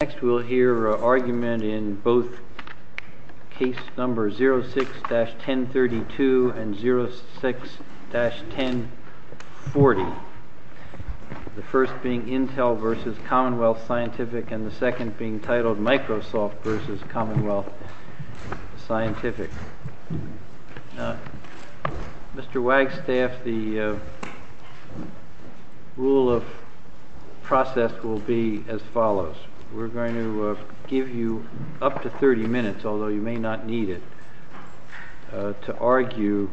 Next we'll hear an argument in both case numbers 06-1032 and 06-1040, the first being Intel v. Commonwealth Scientific and the second being titled Microsoft v. Commonwealth Scientific. Mr. Wagstaff, the rule of process will be as follows. We're going to give you up to 30 minutes, although you may not need it, to argue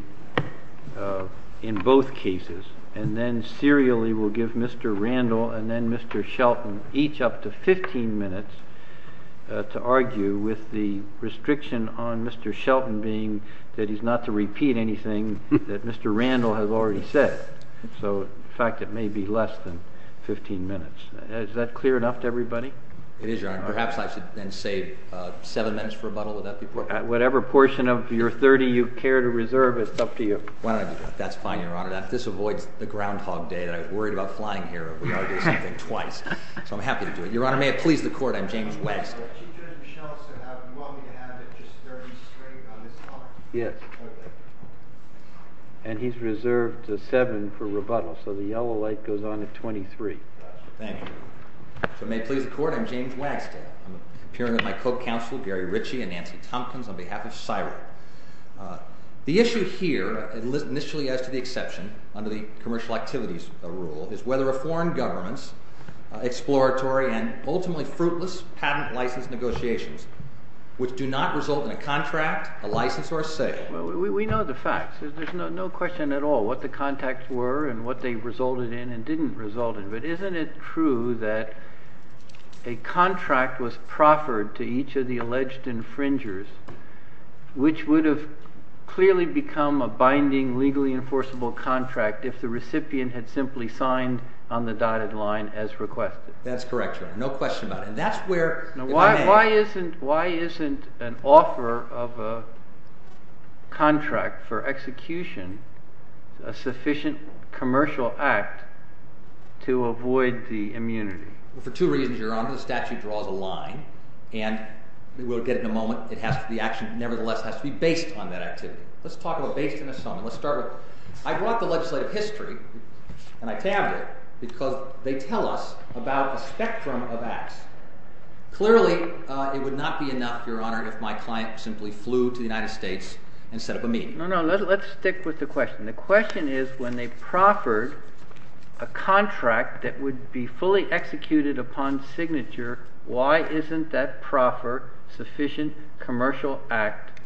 in both cases, and then serially we'll give Mr. Randall and then Mr. Shelton each up to 15 minutes to argue with the restriction on Mr. Shelton being that he's not to repeat anything that Mr. Randall has already said. So in fact, it may be less than 15 minutes. Is that clear enough to everybody? It is, Your Honor. Perhaps I should then save seven minutes for rebuttal. Whatever portion of your 30 you care to reserve is up to you. Well, that's fine, Your Honor. This avoids the groundhog day. I've worried about flying here if we argue something twice. So I'm happy to do it. Your Honor, may it please the Court, I'm James Wagstaff. Mr. Shelton, what we're going to have is just very straight on the clock. Yes. And he's reserved the seven for rebuttal, so the yellow light goes on at 23. Thank you. So may it please the Court, I'm James Wagstaff. I'm appearing with my co-counsel, Gary Ritchie and Nancy Thompkins, on behalf of CSIRO. The issue here, initially as to the exception, under the commercial activities rule, is whether a foreign government's exploratory and ultimately fruitless patent license negotiations, which do not result in a contract, a license, or a sale. We know the facts. There's no question at all what the contacts were and what they resulted in and what they didn't result in. But isn't it true that a contract was proffered to each of the alleged infringers, which would have clearly become a binding, legally enforceable contract if the recipient had simply signed on the dotted line as requested? That's correct, Your Honor. No question about it. Why isn't an offer of a contract for execution a sufficient commercial act to avoid the immunity? Well, for two reasons, Your Honor. The statutes draw the line, and we'll get to it in a moment. The action nevertheless has to be based on that activity. Let's talk about based on this. I brought the legislative history, and I found it, because they tell us about a spectrum of acts. Clearly, it would not be enough, Your Honor, if my client simply flew to the United States and set up a meeting. No, no. Let's stick with the question. The question is, when they proffered a contract that would be fully executed upon signature, why isn't that proffered sufficient commercial act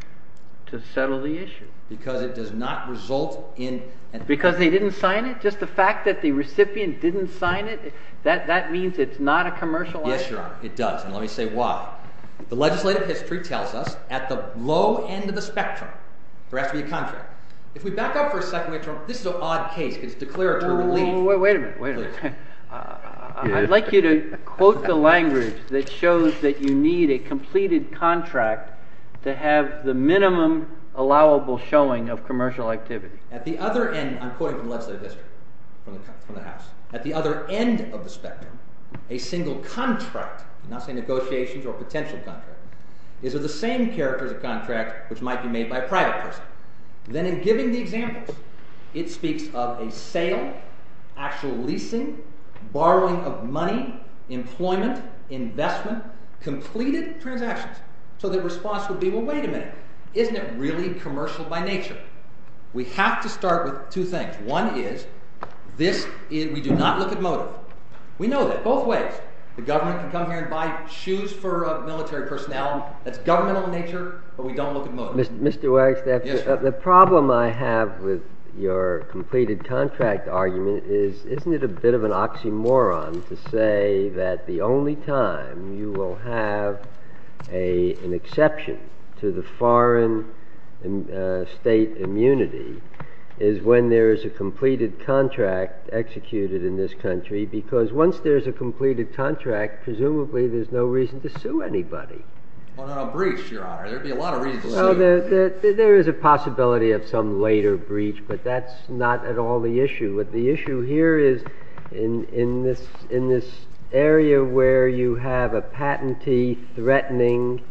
to settle the issue? Because it does not result in... Because they didn't sign it? Just the fact that the recipient didn't sign it? That means it's not a commercial act? Yes, Your Honor, it does. And let me say why. The legislative history tells us, at the low end of the spectrum, for every contract. If we back up for a second, Your Honor, this is an odd case. It's declared totally... Wait a minute. I'd like you to quote the language that shows that you need a completed contract to have the minimum allowable showing of commercial activity. At the other end, I'm quoting from the legislative history, from the House. At the other end of the spectrum, a single contract, I'm not saying negotiations or potential contracts, is of the same character as a contract which might be made by a private person. Then in giving the example, it speaks of a sale, actual leasing, borrowing of money, employment, investment, completed transaction. So the response would be, well, wait a minute. Isn't it really commercial by nature? We have to start with two things. One is, we do not look at motive. We know that both ways. The government can come here and buy shoes for military personnel. That's governmental in nature, but we don't look at motive. Mr. Weiss, the problem I have with your completed contract argument is, isn't it a bit of an oxymoron to say that the only time you will have an exception to the foreign state immunity is when there is a completed contract executed in this country, because once there's a completed contract, presumably there's no reason to sue anybody. Well, on a breach, Your Honor, there'd be a lot of reasons. There is a possibility of some later breach, but that's not at all the issue. The issue here is, in this area where you have a patentee threatening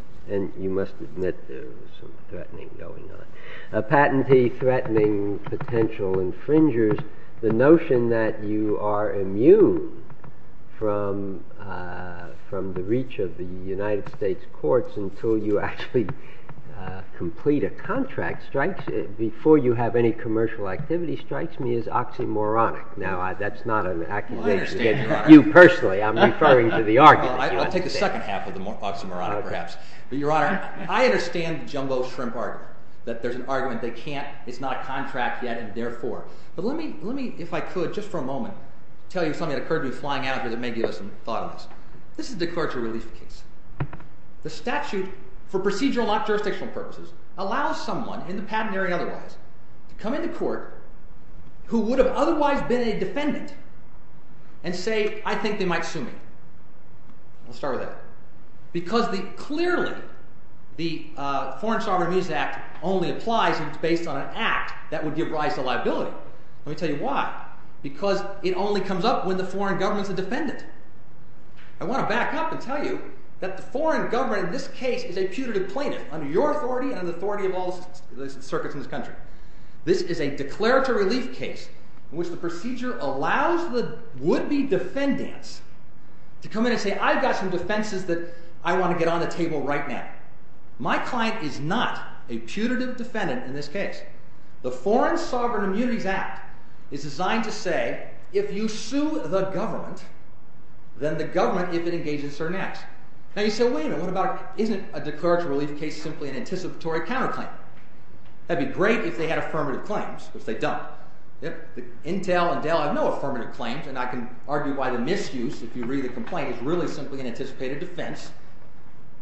potential infringers, the notion that you are immune from the reach of the United States courts until you actually complete a contract before you have any commercial activity strikes me as oxymoronic. Now, that's not an accusation. You personally, I'm referring to the argument. I'll take the second half of the oxymoron, perhaps. Your Honor, I understand the jumbo shrimp argument, that there's an argument that can't, it's not a contract yet, and therefore. But let me, if I could, just for a moment, tell you something that occurred to me flying out of it that may be of some thought on this. This is the court's release case. The statute, for procedural not jurisdictional purposes, allows someone in the patent area to come into court who would have otherwise been a defendant and say, I think you might sue me. We'll start with that. Because clearly, the Foreign Sovereign Use Act only applies if it's based on an act that would give rise to liability. Let me tell you why. Because it only comes up when the foreign government is a defendant. I want to back up and tell you that the foreign government in this case is a putative plaintiff under your authority and the authority of all the circuits in this country. This is a declaratory release case in which the procedure allows the would-be defendant to come in and say, I've got some defenses that I want to get on the table right now. My client is not a putative defendant in this case. The Foreign Sovereign Immunity Act is designed to say, if you sue the government, then the government is to engage in surmise. Now you say, wait a minute. What about, isn't a declaratory release case simply an anticipatory counterclaim? That would be great if they had affirmative claims. But they don't. Intel and Dell have no affirmative claims. And I can argue why the misuse, if you read the complaint, is really simply an anticipated defense.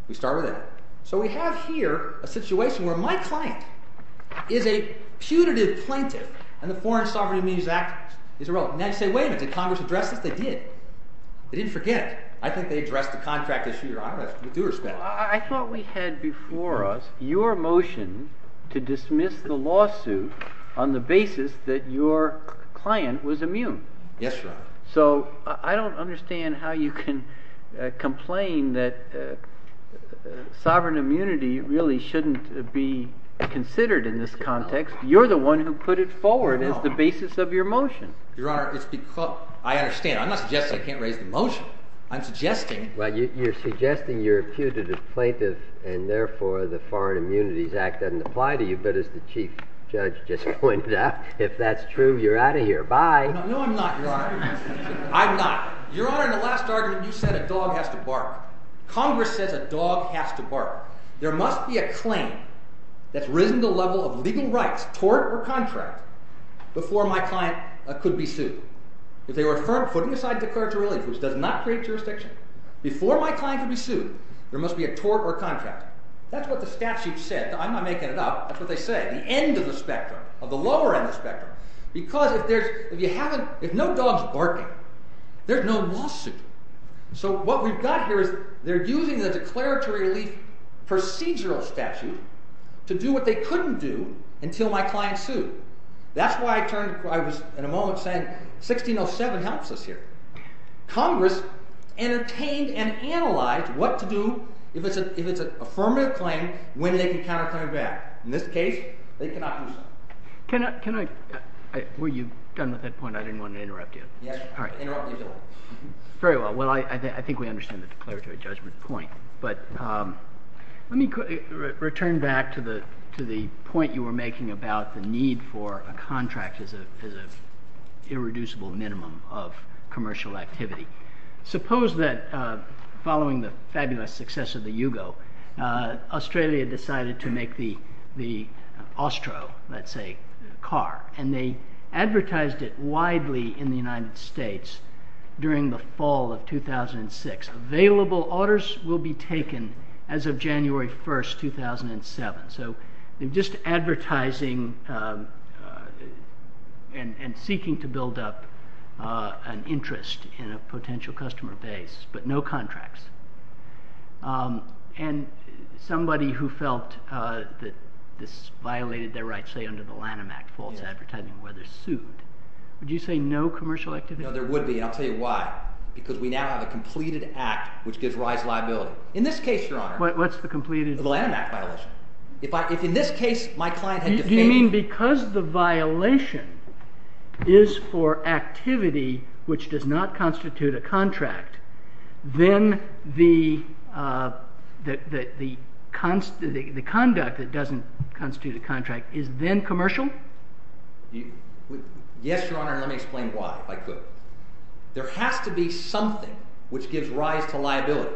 We start with that. So we have here a situation where my client is a putative plaintiff. And the Foreign Sovereign Immunity Act is irrelevant. And I say, wait a minute. Did Congress address it? They did. They didn't forget it. I think they addressed the contract this year. I don't know. I thought we had before us your motion to dismiss the lawsuit on the basis that your client was immune. Yes, Your Honor. So I don't understand how you can complain that sovereign immunity really shouldn't be considered in this context. You're the one who put it forward as the basis of your motion. Your Honor, I understand. I'm not suggesting I can't raise the motion. I'm suggesting – Well, you're suggesting you're a putative plaintiff and, therefore, the Foreign Immunity Act doesn't apply to you. But as the Chief Judge just pointed out, if that's true, you're out of here. Bye. No, I'm not, Your Honor. I'm not. Your Honor, in the last argument, you said a dog has to bark. Congress said a dog has to bark. There must be a claim that's risen to the level of leaving rights, tort or contract, before my client could be sued. If they were putting aside declaratory relief, which does not create jurisdiction, before my client could be sued, there must be a tort or contract. That's what the statute says. I'm not making it up. That's what they say. The end of the spectrum, or the lower end of the spectrum. Because if no dog's barking, there's no lawsuit. So what we've got here is they're using the declaratory relief procedural statute to do what they couldn't do until my client sued. That's why I was, in a moment, saying 1607 helps us here. Congress entertained and analyzed what to do if it's an affirmative claim, when they can counterclaim back. In this case, they could not do so. Were you done with that point? I didn't want to interrupt you. Yes, I interrupted you. Very well. Well, I think we understand the declaratory judgment point. Let me return back to the point you were making about the need for a contract as an irreducible minimum of commercial activity. Suppose that, following the fabulous success of the Yugo, Australia decided to make the Ostro, let's say, car. And they advertised it widely in the United States during the fall of 2006. Available orders will be taken as of January 1st, 2007. So just advertising and seeking to build up an interest in a potential customer base, but no contracts. And somebody who felt that this violated their rights, say, under the Lanham Act, falls in advertising where they're sued. Would you say no commercial activity? No, there would be, and I'll tell you why. Because we now have a completed act which gives rise to liability. In this case, Your Honor. What's the completed? The Lanham Act violation. If in this case, my client had to pay me. You mean because the violation is for activity which does not constitute a contract, then the conduct that doesn't constitute a contract is then commercial? Yes, Your Honor, and let me explain why, if I could. There has to be something which gives rise to liability.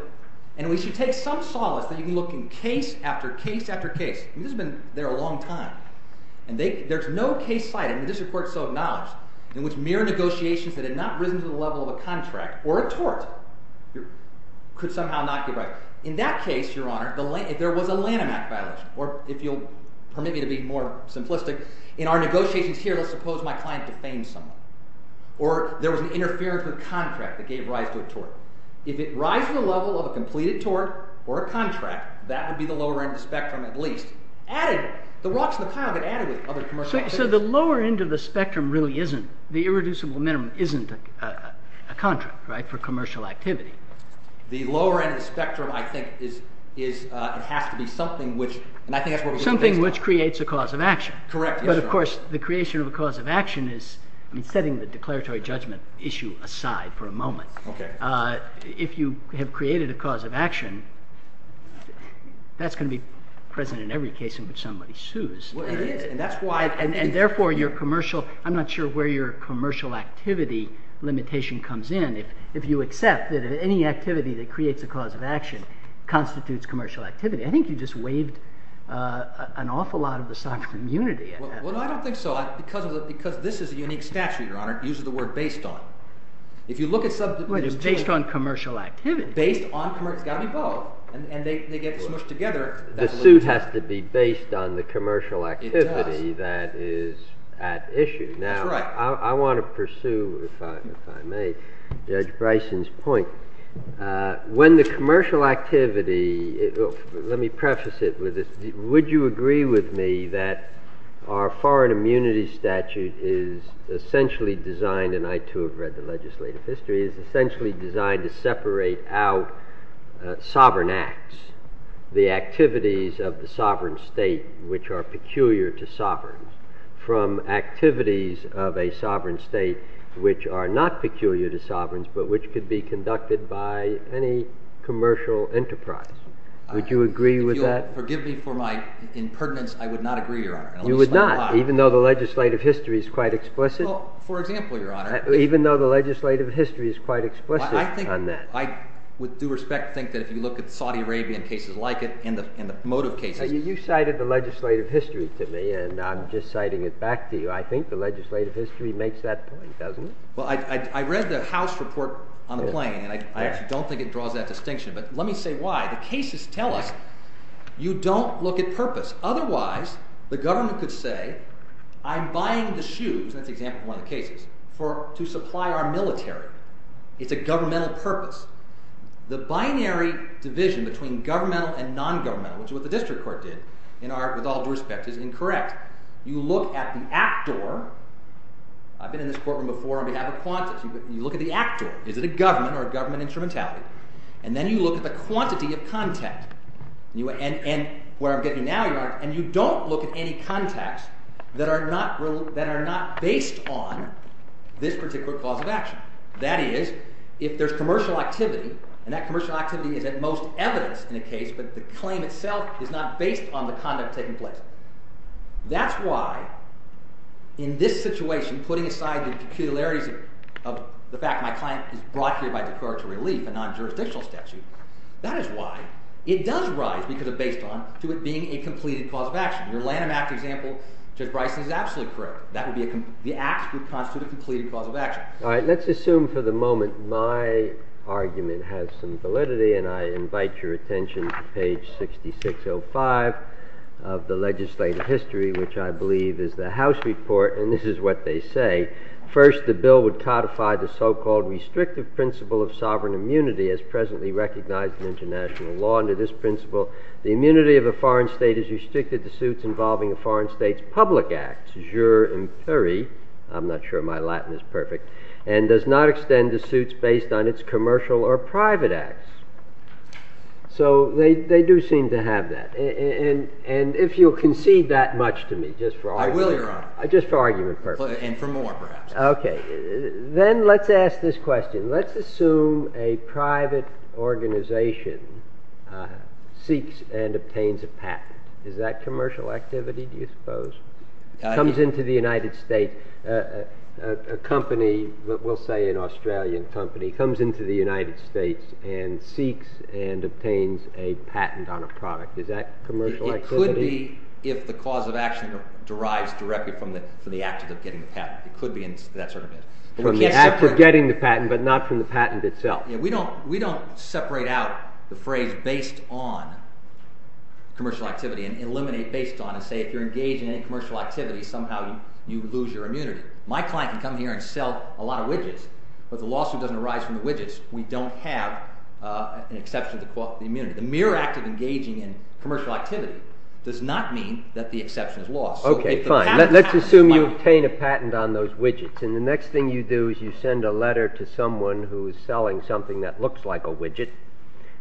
And we should take some solace that you can look in case after case after case. This has been there a long time. And there's no case by it, and this is where it's so acknowledged, in which mere negotiations that had not risen to the level of a contract or a tort could somehow not be right. In that case, Your Honor, there was a Lanham Act violation. Or if you'll permit me to be more simplistic, in our negotiations here, let's suppose my client could pay me something. Or there was an interference with contract that gave rise to a tort. If it rises to the level of a completed tort or a contract, that would be the lower end of the spectrum at least. Added, the watch and the time, it added to the other commercial activity. So the lower end of the spectrum really isn't, the irreducible minimum, isn't a contract, right, for commercial activity. The lower end of the spectrum, I think, is, it has to be something which, and I think that's what we're discussing here. Something which creates a cause of action. Correct, Your Honor. But of course, the creation of a cause of action is, I mean, setting the declaratory judgment issue aside for a moment. If you have created a cause of action, that's going to be present in every case in which somebody sues. And therefore, your commercial, I'm not sure where your commercial activity limitation comes in. If you accept that any activity that creates a cause of action constitutes commercial activity. I think you just waived an awful lot of the sovereign unity of that. Well, I don't think so. Because this is a unique statute, Your Honor, it uses the word based on. If you look at something that is based on commercial activity. Based on commercial, got me wrong. And they get smushed together. The suit has to be based on the commercial activity that is at issue. Now, I want to pursue, if I may, Judge Bryson's point. When the commercial activity, let me preface it with this. Would you agree with me that our foreign immunity statute is essentially designed, and I too have read the legislative history, is essentially designed to separate out sovereign acts, the activities of the sovereign state, which are peculiar to sovereigns, from activities of a sovereign state, which are not peculiar to sovereigns, but which could be conducted by any commercial enterprise? Would you agree with that? Forgive me for my impertinence. I would not agree, Your Honor. You would not? Even though the legislative history is quite explicit? Well, for example, Your Honor. Even though the legislative history is quite explicit on that? I think I, with due respect, think that if you look at Saudi Arabian cases like it and the motive cases. You cited the legislative history to me, and I'm just citing it back to you. I think the legislative history makes that point, doesn't it? Well, I read the House report I'm playing, and I actually don't think it draws that distinction. But let me say why. The cases tell us you don't look at purpose. Otherwise, the government could say, I'm buying the shoes, and that's an example of one of the cases, to supply our military. It's a governmental purpose. The binary division between governmental and non-governmental is what the district court did, with all due respect, is incorrect. You look at the actor. I've been in this courtroom before, and we have a concept. You look at the actor. Is it a government or a government instrumentality? And then you look at the quantity of context. And what I'm getting at now, Your Honor, is you don't look at any context that are not based on this particular cause of action. That is, if there's commercial activity, and that commercial activity is at most evident in the case, but the claim itself is not based on the conduct taking place. That's why, in this situation, putting aside the peculiarity of the fact my client is brought here by the court to relieve a non-jurisdictional statute, that is why it does rise, because it's based on it being a completed cause of action. Your Lanham Act example took Bryson's absolutely correct. The act would constitute a completed cause of action. All right, let's assume for the moment my argument has some validity, and I invite your attention to page 6605 of the legislative history, which I believe is the House report. And this is what they say. First, the bill would codify the so-called restrictive principle of sovereign immunity as presently recognized in international law. Under this principle, the immunity of a foreign state is restricted to suits involving a foreign state's public acts. I'm not sure my Latin is perfect. And does not extend to suits based on its commercial or private acts. So they do seem to have that. And if you'll concede that much to me, just for argument's sake. I will, Your Honor. Just for argument's sake. And for more, perhaps. Okay. Then let's ask this question. Let's assume a private organization seeks and obtains a patent. Is that commercial activity, do you suppose? Comes into the United States. A company, we'll say an Australian company, comes into the United States and seeks and obtains a patent on a product. Is that commercial activity? It could be if the cause of action derives directly from the act of getting the patent. It could be that sort of thing. From the act of getting the patent, but not from the patent itself. We don't separate out the phrase based on commercial activity and eliminate based on it. Say if you're engaged in any commercial activity, somehow you lose your immunity. My client can come here and sell a lot of widgets, but the lawsuit doesn't arise from the widgets. We don't have an exception to the cost of the immunity. The mere act of engaging in commercial activity does not mean that the exception is lost. Okay, fine. Let's assume you obtain a patent on those widgets. The next thing you do is you send a letter to someone who is selling something that looks like a widget,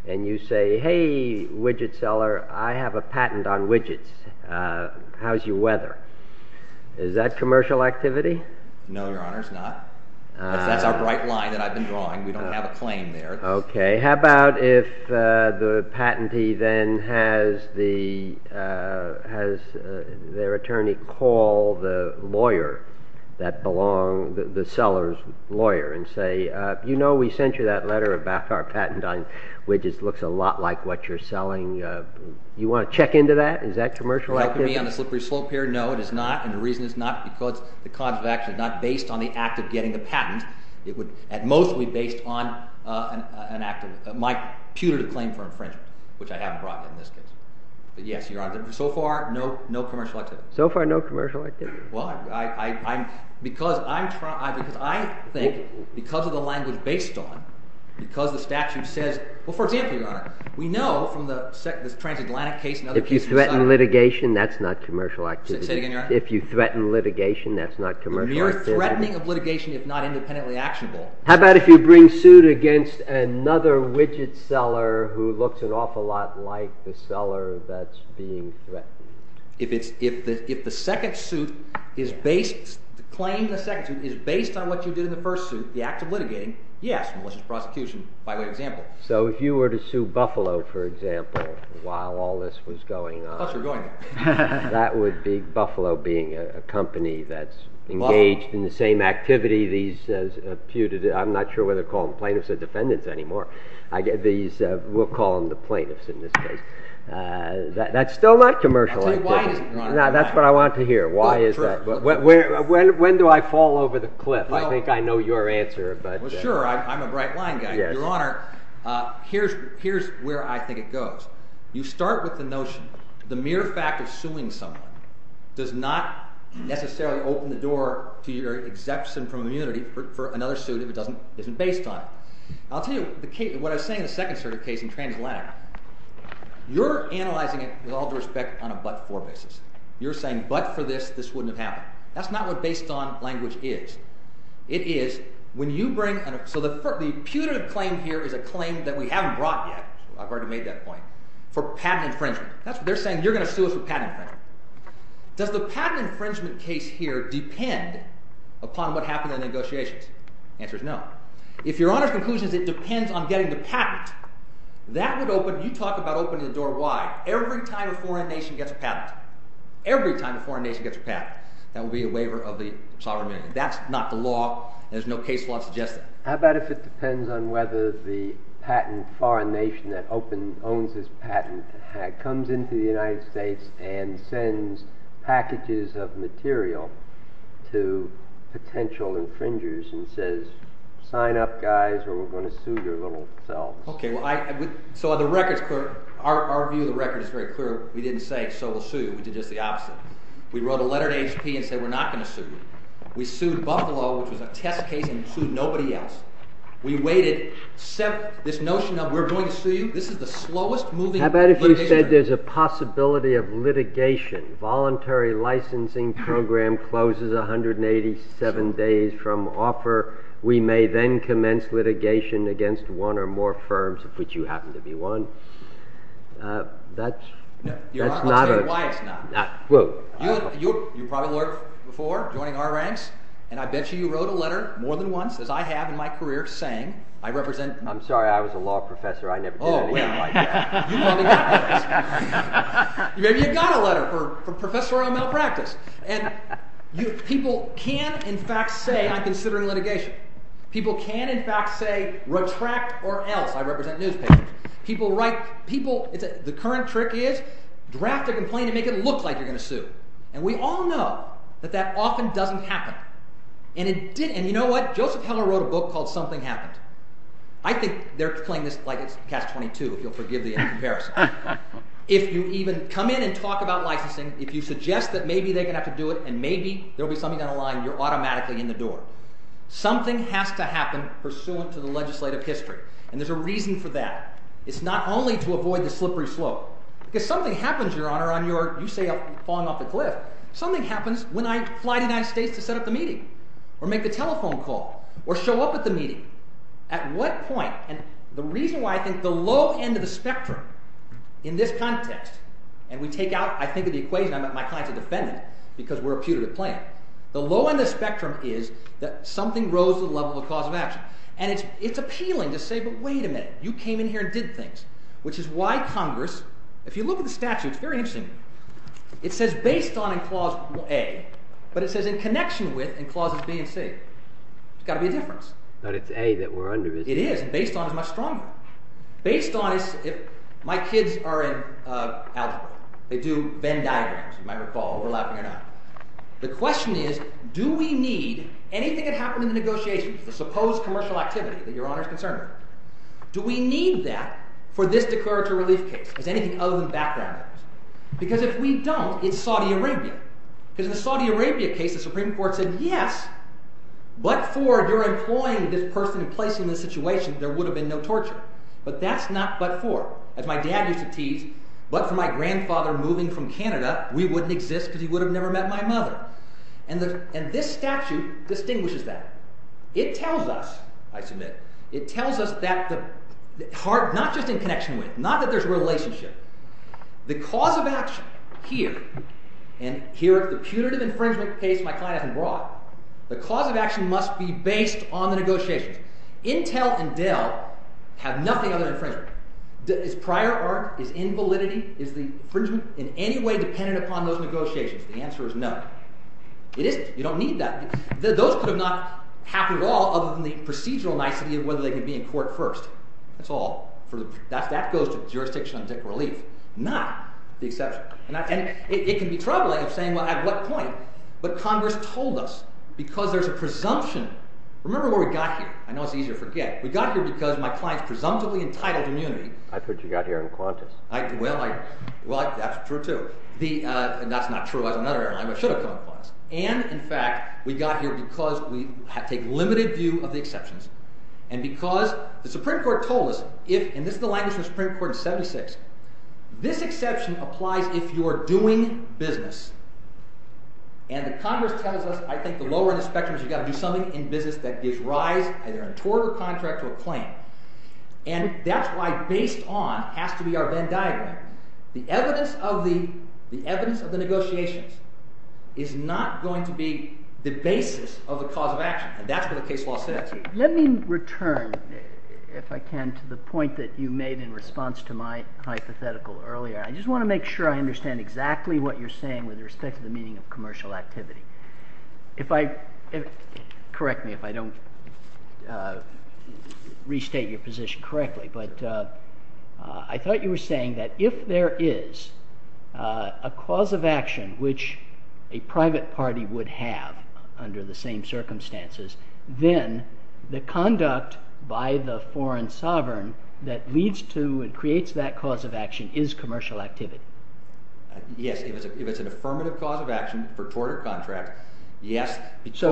and you say, hey, widget seller, I have a patent on widgets. How's your weather? Is that commercial activity? No, Your Honor, it's not. That's a bright line that I've been drawing. We don't have a plane there. Okay. How about if the patentee then has their attorney call the lawyer that belongs, the seller's lawyer, and say, you know, we sent you that letter about our patent on widgets. It looks a lot like what you're selling. Do you want to check into that? Is that commercial activity? On the slippery slope here, no, it is not, and the reason is not because the cause of action is not based on the act of getting the patent. It's mostly based on my pewtered claim for infringement, which I haven't brought in this case. But yes, Your Honor, so far, no commercial activity. So far, no commercial activity. Well, because I think because of the language based on it, because the statute says, well, forget it, Your Honor. We know from the transatlantic case and other cases. If you threaten litigation, that's not commercial activity. Say it again, Your Honor. If you threaten litigation, that's not commercial activity. Threatening of litigation is not independently actionable. How about if you bring suit against another widget seller who looks an awful lot like the seller that's being threatened? If the second suit is based, the claim in the second suit is based on what you did in the first suit, the act of litigating, yes, it was a prosecution by way of example. So if you were to sue Buffalo, for example, while all this was going on, that would be Buffalo being a company that's engaged in the same activity. I'm not sure whether to call them plaintiffs or defendants anymore. We'll call them the plaintiffs in this case. That's still not commercial activity. That's what I want to hear. Why is that? When do I fall over the cliff? I think I know your answer. Well, sure. I'm a bright line guy. Your Honor, here's where I think it goes. You start with the notion, the mere fact of suing someone does not necessarily open the door to your exemption from immunity for another suit if it isn't based on it. I'll tell you what I was saying in the second case in transatlantic. You're analyzing it with all due respect on a but-for basis. You're saying but for this, this wouldn't have happened. That's not what based-on language is. It is when you bring – so the punitive claim here is a claim that we haven't brought yet. I've already made that point. For patent infringement. That's what they're saying. You're going to sue us with patent claims. Does the patent infringement case here depend upon what happened in the negotiations? The answer is no. If your Honor's conclusion is it depends on getting the patent, that would open – you talked about opening the door wide. Every time a foreign nation gets a patent, every time a foreign nation gets a patent, that would be a waiver of the sovereign immunity. That's not the law. There's no case law that suggests that. How about if it depends on whether the patent foreign nation that owns this patent comes into the United States and sends packages of material to potential infringers and says, sign up, guys, or we're going to sue your little selves. Okay. So the record's clear. Our view of the record is very clear. We didn't say, so we'll sue you. We did it the opposite. We wrote a letter to HP and said, we're not going to sue you. We sued Buffalo, which was a test case, and sued nobody else. We waited – this notion of we're going to sue you, this is the slowest moving – How about if we said there's a possibility of litigation, voluntary licensing program closes 187 days from offer. We may then commence litigation against one or more firms, which you happen to be one. That's not a – You're not going to say why it's not. You probably worked before, joining our ranks, and I bet you wrote a letter more than once, as I have in my career, saying I represent – I'm sorry. I was a law professor. I never did anything like that. You got a letter from a professor on malpractice. And people can, in fact, say I'm considering litigation. People can, in fact, say retract or L. I represent newspapers. People write – the current trick is draft a complaint and make it look like you're going to sue. And we all know that that often doesn't happen. And it didn't. And you know what? Joseph Keller wrote a book called Something Happened. I think they're playing this like it's Catch-22, if you'll forgive the comparison. If you even come in and talk about licensing, if you suggest that maybe they have to do it and maybe there'll be something on the line, you're automatically in the door. Something has to happen pursuant to the legislative history, and there's a reason for that. It's not only to avoid the slippery slope. If something happens, Your Honor, on your – you say I'm falling off the cliff. Something happens when I fly to the United States to set up a meeting or make a telephone call or show up at the meeting. At what point – and the reason why I think the low end of the spectrum in this context – and we take out – I think of the equation. I'm not trying to defend it because we're a punitive plan. The low end of the spectrum is that something rose to the level of a cause of action. And it's appealing to say, but wait a minute. You came in here and did things, which is why Congress – if you look at the statute, it's very interesting. It says based on in clause A, but it says in connection with in clauses B and C. There's got to be a difference. But it's A that we're under, isn't it? It is. Based on is much stronger. Based on is – my kids are an ally. They do Venn diagrams, as you might recall. The question is, do we need anything that happened in the negotiations, the supposed commercial activity that Your Honor is concerned with, do we need that for this Declaratory Relief case? Does anybody else in the background know? Because if we don't, it's Saudi Arabia. Because in the Saudi Arabia case, the Supreme Court said, yes, but for your employing this person and placing this situation, there would have been no torture. But that's not but for. As my dad used to tease, but for my grandfather moving from Canada, we wouldn't exist because he would have never met my mother. And this statute distinguishes that. It tells us, I submit, it tells us that's the – not just in connection with, not that there's a relationship. The cause of action here, and here the punitive infringement takes my class abroad, the cause of action must be based on the negotiation. Intel and Dell have nothing other than infringement. Is prior art, is invalidity, is the infringement in any way dependent upon those negotiations? The answer is no. It isn't. You don't need that. Those two are not happy at all other than the procedural night to be in whether they can be in court first. That's all. That goes to the jurisdiction of the Declaratory Relief, not the exception. And it can be troubling saying at what point, but Congress told us because there's a presumption. Remember where we got here. I know it's easy to forget. We got here because my client presumptively entitled immunity. I thought you got here in Qantas. Well, that's true, too. And that's not true. I was on another airline. I should have flown to Qantas. And, in fact, we got here because we take limited view of the exceptions and because the Supreme Court told us. And this is the language of the Supreme Court in 76. This exception applies if you are doing business. And the Congress kind of was, I think, the lower inspection is you've got to do something in business that is right either toward the contract or the plan. And that's why based on, has to be our Venn diagram, the evidence of the negotiations is not going to be the basis of the cause of action. And that's what the case law says. Let me return, if I can, to the point that you made in response to my hypothetical earlier. I just want to make sure I understand exactly what you're saying with respect to the meaning of commercial activity. Correct me if I don't restate your position correctly. I thought you were saying that if there is a cause of action which a private party would have under the same circumstances, then the conduct by the foreign sovereign that leads to and creates that cause of action is commercial activity. Yes. If it's an affirmative cause of action for toward a contract, yes. If you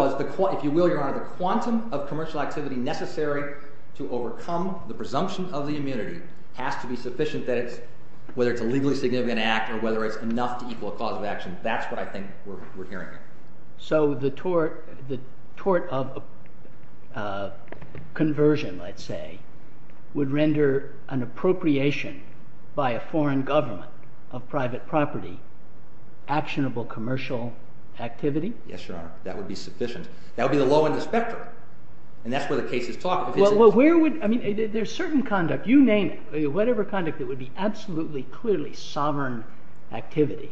will, your Honor, the quantum of commercial activity necessary to overcome the presumption of the immunity has to be sufficient that whether it's a legally significant act or whether it's not the equal cause of action. That's what I think we're hearing. So the tort of conversion, let's say, would render an appropriation by a foreign government of private property actionable commercial activity? Yes, Your Honor. That would be sufficient. That would be the law in the spectrum. And that's what the case is talking about. Well, where would – I mean, there's certain conduct. You named it. Whatever conduct that would be absolutely clearly sovereign activity,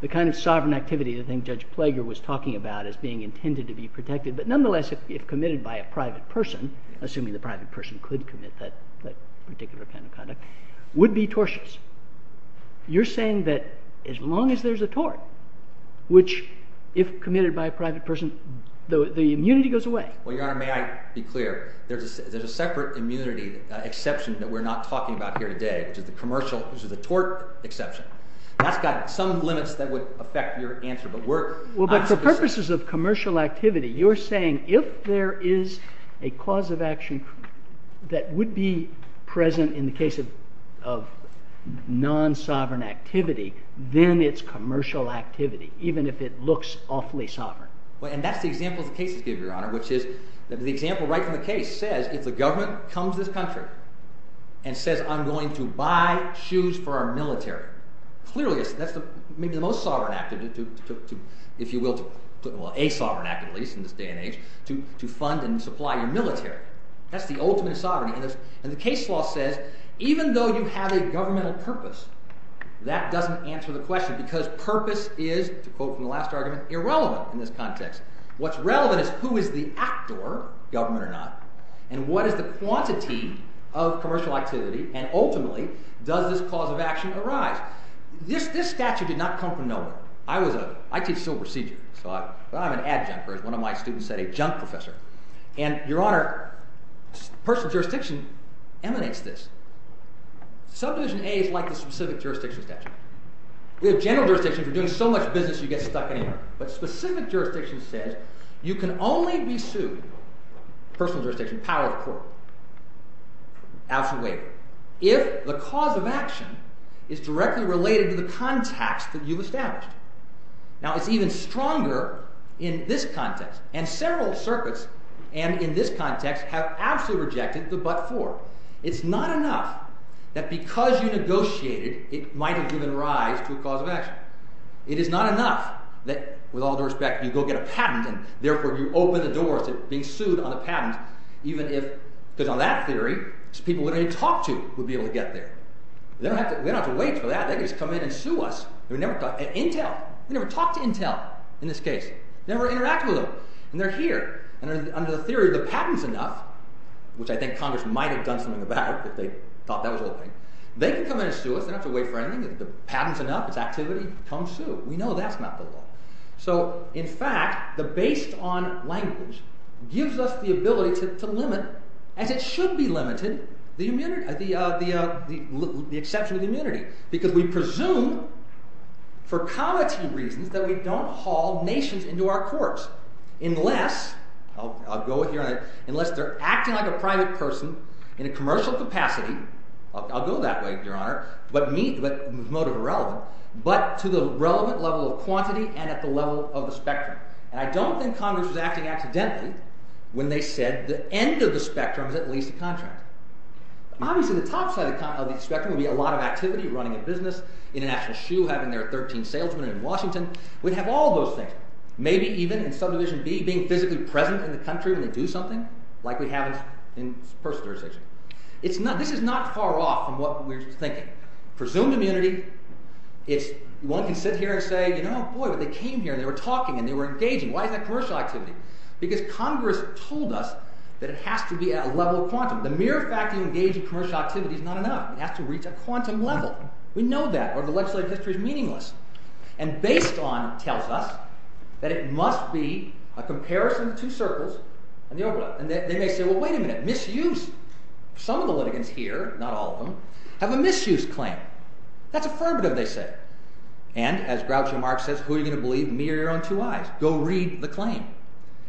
the kind of sovereign activity that I think Judge Plager was talking about as being intended to be protected, but nonetheless if committed by a private person, assuming the private person could commit that particular kind of conduct, would be tortious. You're saying that as long as there's a tort, which if committed by a private person, the immunity goes away. Well, Your Honor, may I be clear? There's a separate immunity exception that we're not talking about here today. It's a commercial – this is a tort exception. That's got some limits that would affect your answer. Well, but for purposes of commercial activity, you're saying if there is a cause of action that would be present in the case of non-sovereign activity, then it's commercial activity, even if it looks awfully sovereign. Well, and that's the example of the case, Your Honor, which is the example right from the case says if the government comes to this country and says, I'm going to buy shoes for our military, clearly that's maybe the most sovereign activity. If you will, a sovereign act at least in this day and age to fund and supply your military. That's the ultimate sovereignty. And the case law says even though you have a governmental purpose, that doesn't answer the question because purpose is, to quote from the last argument, irrelevant in this context. What's relevant is who is the actor, government or not, and what is the quantity of commercial activity, and ultimately does this cause of action arise? This statute did not come from nowhere. I was a – I teach civil procedure, so I'm an adjunct, or as one of my students said, a junk professor. And, Your Honor, personal jurisdiction emanates this. Subposition A is like a specific jurisdiction statute. We have general jurisdictions that are doing so much business you get stuck anywhere. But specific jurisdiction says you can only be sued, personal jurisdiction, power of court, absolutely, if the cause of action is directly related to the context that you established. Now, it's even stronger in this context, and several circuits in this context have absolutely rejected the but-for. It's not enough that because you negotiated it might have given rise to a cause of action. It is not enough that, with all due respect, you go get a patent and, therefore, you open the door to being sued on the patent, even if, because on that theory, people we didn't talk to would be able to get there. We don't have to wait for that. They can just come in and sue us. We never talk to Intel in this case. We never interact with them, and they're here. And under the theory that the patent's enough, which I think Congress might have done something about if they thought that was the whole thing, they can come in and sue us. We don't have to wait for anything. If the patent's enough, it's activity, come sue us. We know that's not the law. So, in fact, the based-on language gives us the ability to limit, and it should be limited, the exception of the immunity because we presume, for collective reasons, that we don't haul nations into our courts unless—I'll go with your idea—unless they're acting like a private person in a commercial capacity. I'll go that way, Your Honor, but motive irrelevant, but to the relevant level of quantity and at the level of the spectrum. And I don't think Congress was acting accidentally when they said the end of the spectrum is at least a contract. Obviously, the top side of the spectrum would be a lot of activity, running a business, International Shoe having their 13th salesman in Washington. We'd have all those things. Maybe even, in subdivision B, being physically present in the country when we do something, like we have in personal jurisdiction. This is not far off from what we were thinking. Presumed immunity, you won't be sitting here and saying, oh, boy, but they came here and they were talking and they were engaging. Why is that commercial activity? Because Congress told us that it has to be at a level of quantity. The mere fact that you engage in commercial activity is not enough. It has to reach a quantum level. We know that, or the legislative system is meaningless. And based on KELTA, that it must be a comparison of two circles, and they make you, well, wait a minute, misuse. Some of the litigants here, not all of them, have a misuse claim. That's affirmative, they say. And, as Groucho Marx says, who's going to believe me or your own two eyes? Go read the claim.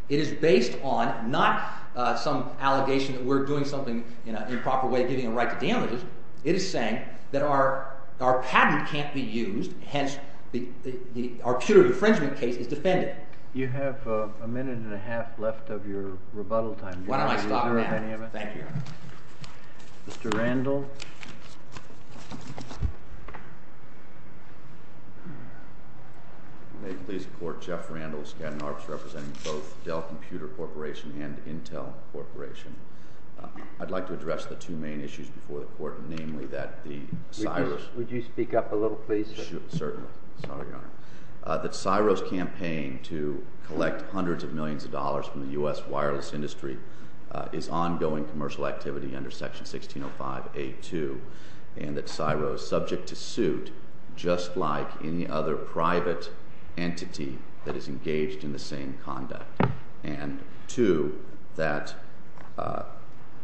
It is based on not some allegation that we're doing something in an improper way, getting a right to damages. It is saying that our patent can't be used, hence our pure infringement case is defended. You have a minute and a half left of your rebuttal time. Why don't I stop now? Thank you. Mr. Randall? May it please the Court, Jeff Randall, this is Ken Marx, representing both Dell Computer Corporation and Intel Corporation. I'd like to address the two main issues before the Court, namely that the CSIRO... Would you speak up a little, please? Certainly. Sorry, Your Honor. That CSIRO's campaign to collect hundreds of millions of dollars from the U.S. wireless industry is ongoing commercial activity under Section 1605A2, and that CSIRO is subject to suit just like any other private entity that is engaged in the same conduct. And two, that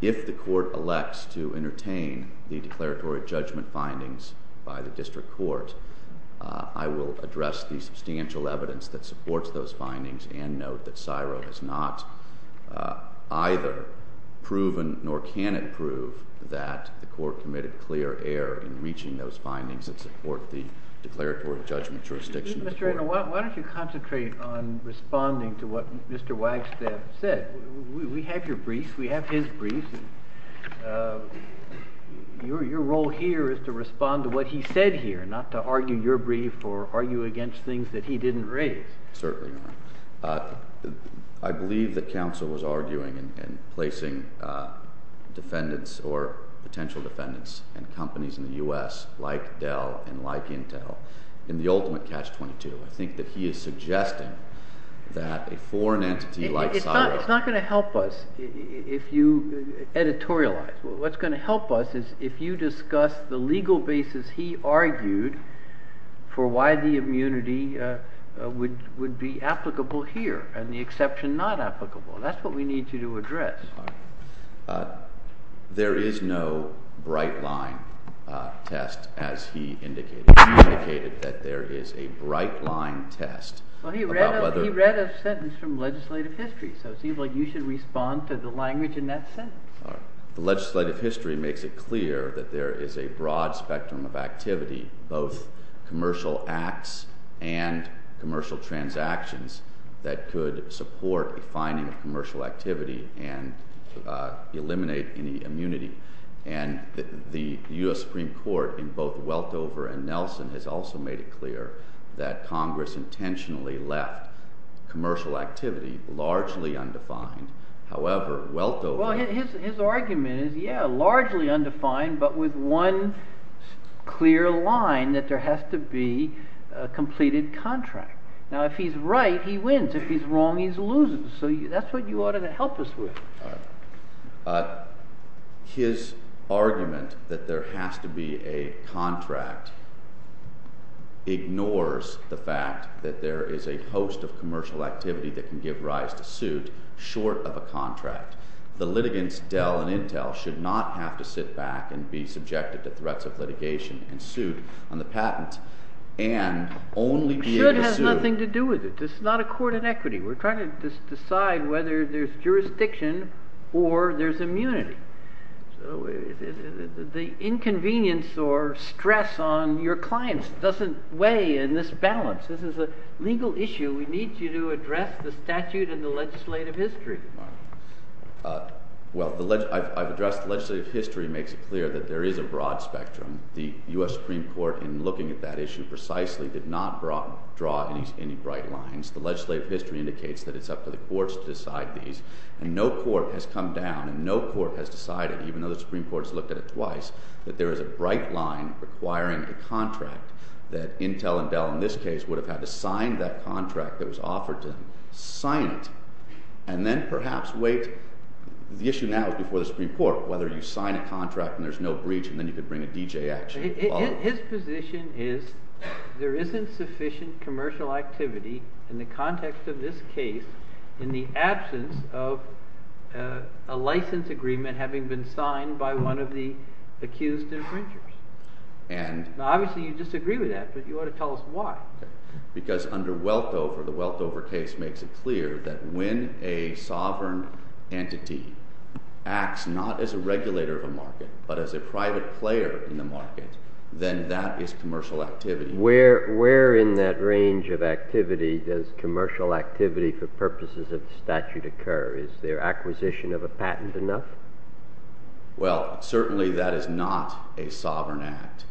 if the Court elects to entertain the declaratory judgment findings by the District Court, I will address the substantial evidence that supports those findings and note that CSIRO has not either proven nor can it prove that the Court committed clear error in reaching those findings that support the declaratory judgment jurisdictions. Mr. Randall, why don't you concentrate on responding to what Mr. Wagstaff said? We have your brief. We have his brief. Your role here is to respond to what he said here, not to argue your brief or argue against things that he didn't raise. Certainly, Your Honor. I believe that counsel was arguing and placing defendants or potential defendants and companies in the U.S., like Dell and like Intel, in the ultimate catch-22. I think that he is suggesting that a foreign entity like CSIRO It's not going to help us if you editorialize. What's going to help us is if you discuss the legal basis he argued for why the immunity would be applicable here and the exception not applicable. That's what we need you to address. There is no bright line test, as he indicated. He indicated that there is a bright line test. He read a sentence from legislative history, so it seems like you should respond to the language in that sentence. Legislative history makes it clear that there is a broad spectrum of activity, both commercial acts and commercial transactions, that could support defining commercial activity and eliminate any immunity. The U.S. Supreme Court, in both Weltover and Nelson, has also made it clear that Congress intentionally left commercial activity largely undefined. However, Weltover... Well, his argument is, yeah, largely undefined, but with one clear line, that there has to be a completed contract. Now, if he's right, he wins. If he's wrong, he loses. So that's what you ought to help us with. His argument that there has to be a contract ignores the fact that there is a host of commercial activity that can give rise to suit short of a contract. The litigants, Dell and Intel, should not have to sit back and be subjected to threats of litigation and suit on the patent and only be able to... The suit has nothing to do with it. This is not a court of equity. We're trying to decide whether there's jurisdiction or there's immunity. The inconvenience or stress on your clients doesn't weigh in this balance. This is a legal issue. We need you to address the statute and the legislative history. Well, I've addressed legislative history. It makes it clear that there is a broad spectrum. The U.S. Supreme Court, in looking at that issue precisely, did not draw any bright lines. The legislative history indicates that it's up to the courts to decide these. And no court has come down and no court has decided, even though the Supreme Court has looked at it twice, that there is a bright line requiring a contract that Intel and Dell, in this case, would have had to sign that contract that was offered to them. Sign it. And then perhaps wait... The issue now is before the Supreme Court, whether you sign a contract and there's no breach, and then you can bring a D.J. action as well. His position is there isn't sufficient commercial activity, in the context of this case, in the absence of a license agreement having been signed by one of the accused infringers. Obviously, you disagree with that, but you ought to tell us why. Because under Welkover, the Welkover case makes it clear that when a sovereign entity acts not as a regulator of a market, but as a private player in the market, then that is commercial activity. Where in that range of activity does commercial activity for purposes of statute occur? Is there acquisition of a patent enough? Well, certainly that is not a sovereign act.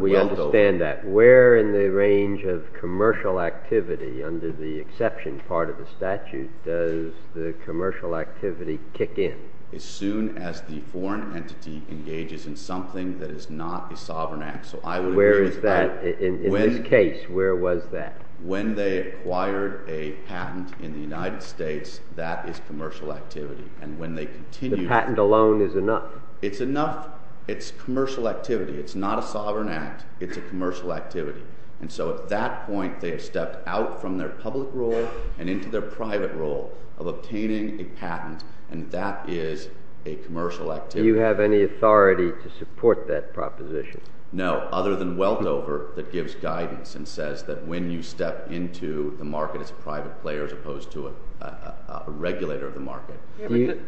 We understand that. But where in the range of commercial activity, under the exception part of the statute, does the commercial activity kick in? As soon as the foreign entity engages in something that is not a sovereign act. Where is that? In this case, where was that? When they acquired a patent in the United States, that is commercial activity. And when they continue... The patent alone is enough? It's enough. It's commercial activity. It's not a sovereign act. It's a commercial activity. And so at that point, they have stepped out from their public role and into their private role of obtaining a patent, and that is a commercial activity. Do you have any authority to support that proposition? No, other than Welkover that gives guidance and says that when you step into the market as a private player as opposed to a regulator of the market.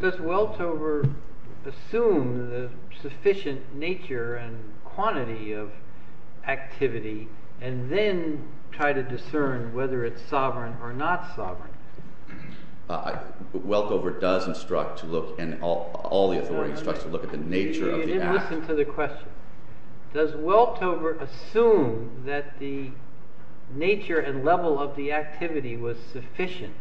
Does Welkover assume the sufficient nature and quantity of activity and then try to discern whether it's sovereign or not sovereign? Welkover does instruct to look and all the authorities instruct to look at the nature of the act. Listen to the question. Does Welkover assume that the nature and level of the activity was sufficient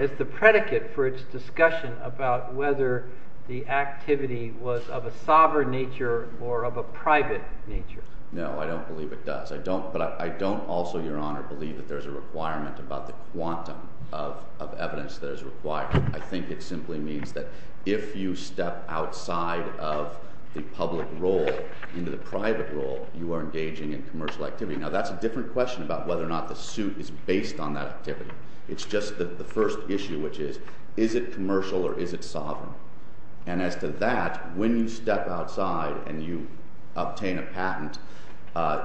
as the predicate for its discussion about whether the activity was of a sovereign nature or of a private nature? No, I don't believe it does. But I don't also, Your Honor, believe that there's a requirement about the quantum of evidence that is required. I think it simply means that if you step outside of the public role into the private role, you are engaging in commercial activity. Now, that's a different question about whether or not the suit is based on that activity. It's just the first issue, which is, is it commercial or is it sovereign? And as to that, when you step outside and you obtain a patent,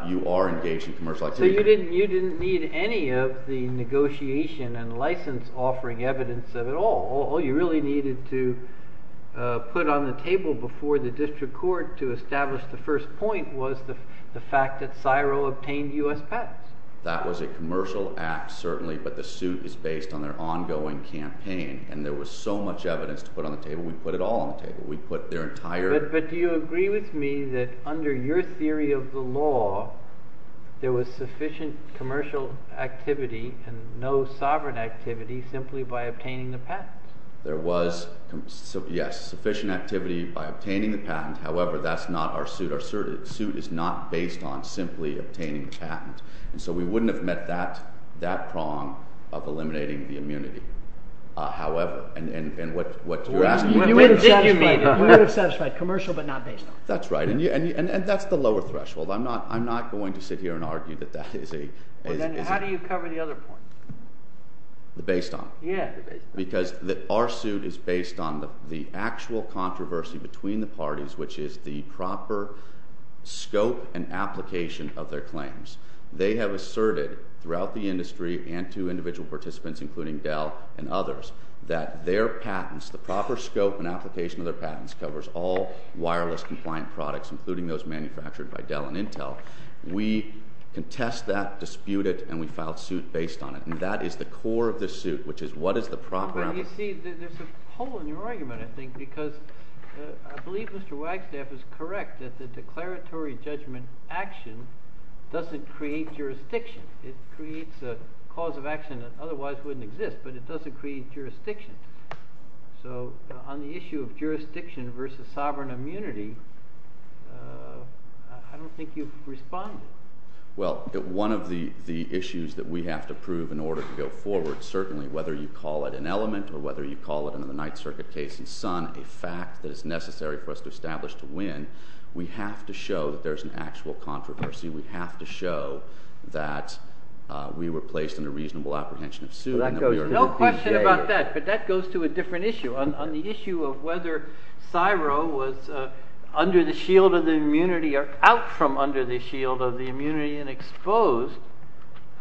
you are engaged in commercial activity. So you didn't need any of the negotiation and license-offering evidence at all. All you really needed to put on the table before the district court to establish the first point was the fact that CSIRO obtained U.S. patents. That was a commercial act, certainly, but the suit is based on their ongoing campaign. And there was so much evidence to put on the table. We put it all on the table. We put their entire... But do you agree with me that under your theory of the law, there was sufficient commercial activity and no sovereign activity simply by obtaining the patent? There was, yes, sufficient activity by obtaining the patent. However, that's not our suit. Our suit is not based on simply obtaining patents. And so we wouldn't have met that prong of eliminating the immunity. However, and what you're asking me... You made a satisfactory comment. We were satisfied, commercial but not based on. That's right, and that's the lower threshold. I'm not going to sit here and argue that that is a... Then how do you cover the other points? Based on? Yeah. Because our suit is based on the actual controversy between the parties, which is the proper scope and application of their claims. They have asserted throughout the industry and to individual participants including Dell and others that their patents, the proper scope and application of their patents, covers all wireless-compliant products, including those manufactured by Dell and Intel. We contest that, dispute it, and we file a suit based on it. And that is the core of the suit, which is what is the proper... You see, there's a hole in your argument, I think, because I believe Mr. Wagstaff is correct that the declaratory judgment action doesn't create jurisdiction. It creates a cause of action that otherwise wouldn't exist, but it doesn't create jurisdiction. So on the issue of jurisdiction versus sovereign immunity, I don't think you've responded. Well, one of the issues that we have to prove in order to go forward, certainly whether you call it an element or whether you call it in the Ninth Circuit case in Sun a fact that is necessary for us to establish to win, we have to show that there's an actual controversy. We have to show that we were placed under reasonable apprehension of suit... No question about that, but that goes to a different issue. On the issue of whether CSIRO was under the shield of the immunity or out from under the shield of the immunity and exposed,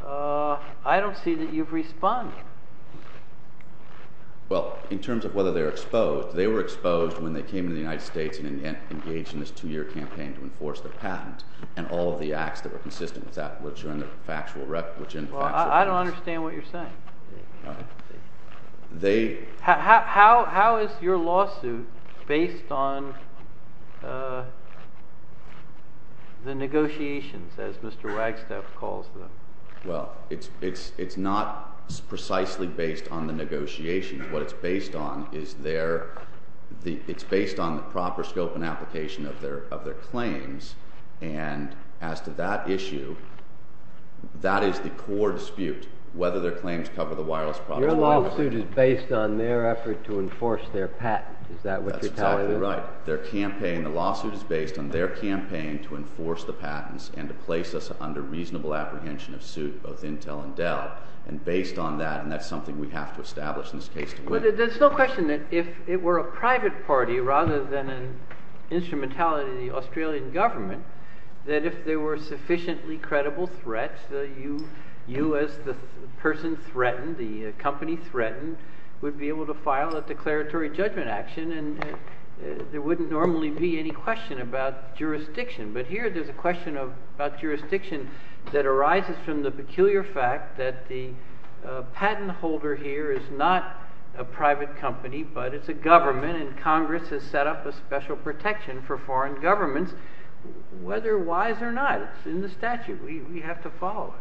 I don't see that you've responded. Well, in terms of whether they were exposed, they were exposed when they came to the United States and engaged in this two-year campaign to enforce the patents and all of the acts that were consistent with that, which are in the factual... Well, I don't understand what you're saying. They... How is your lawsuit based on the negotiations, as Mr. Wagstaff calls them? Well, it's not precisely based on the negotiations. What it's based on is their... It's based on the proper scope and application of their claims, and as to that issue, that is the core dispute, whether their claims cover the wireless... Your lawsuit is based on their effort to enforce their patents. Is that what you're talking about? That's exactly right. Their campaign... The lawsuit is based on their campaign to enforce the patents and to place us under reasonable apprehension of suit, both Intel and Dell, and based on that, and that's something we have to establish in this case. Well, there's no question that if it were a private party rather than an instrumentality of the Australian government, that if there were sufficiently credible threats, that you as the person threatened, the company threatened, would be able to file a declaratory judgment action, and there wouldn't normally be any question about jurisdiction. But here there's a question about jurisdiction that arises from the peculiar fact that the patent holder here is not a private company, but it's a government, and Congress has set up a special protection for foreign governments, whether wise or not. It's in the statute. We have to follow it.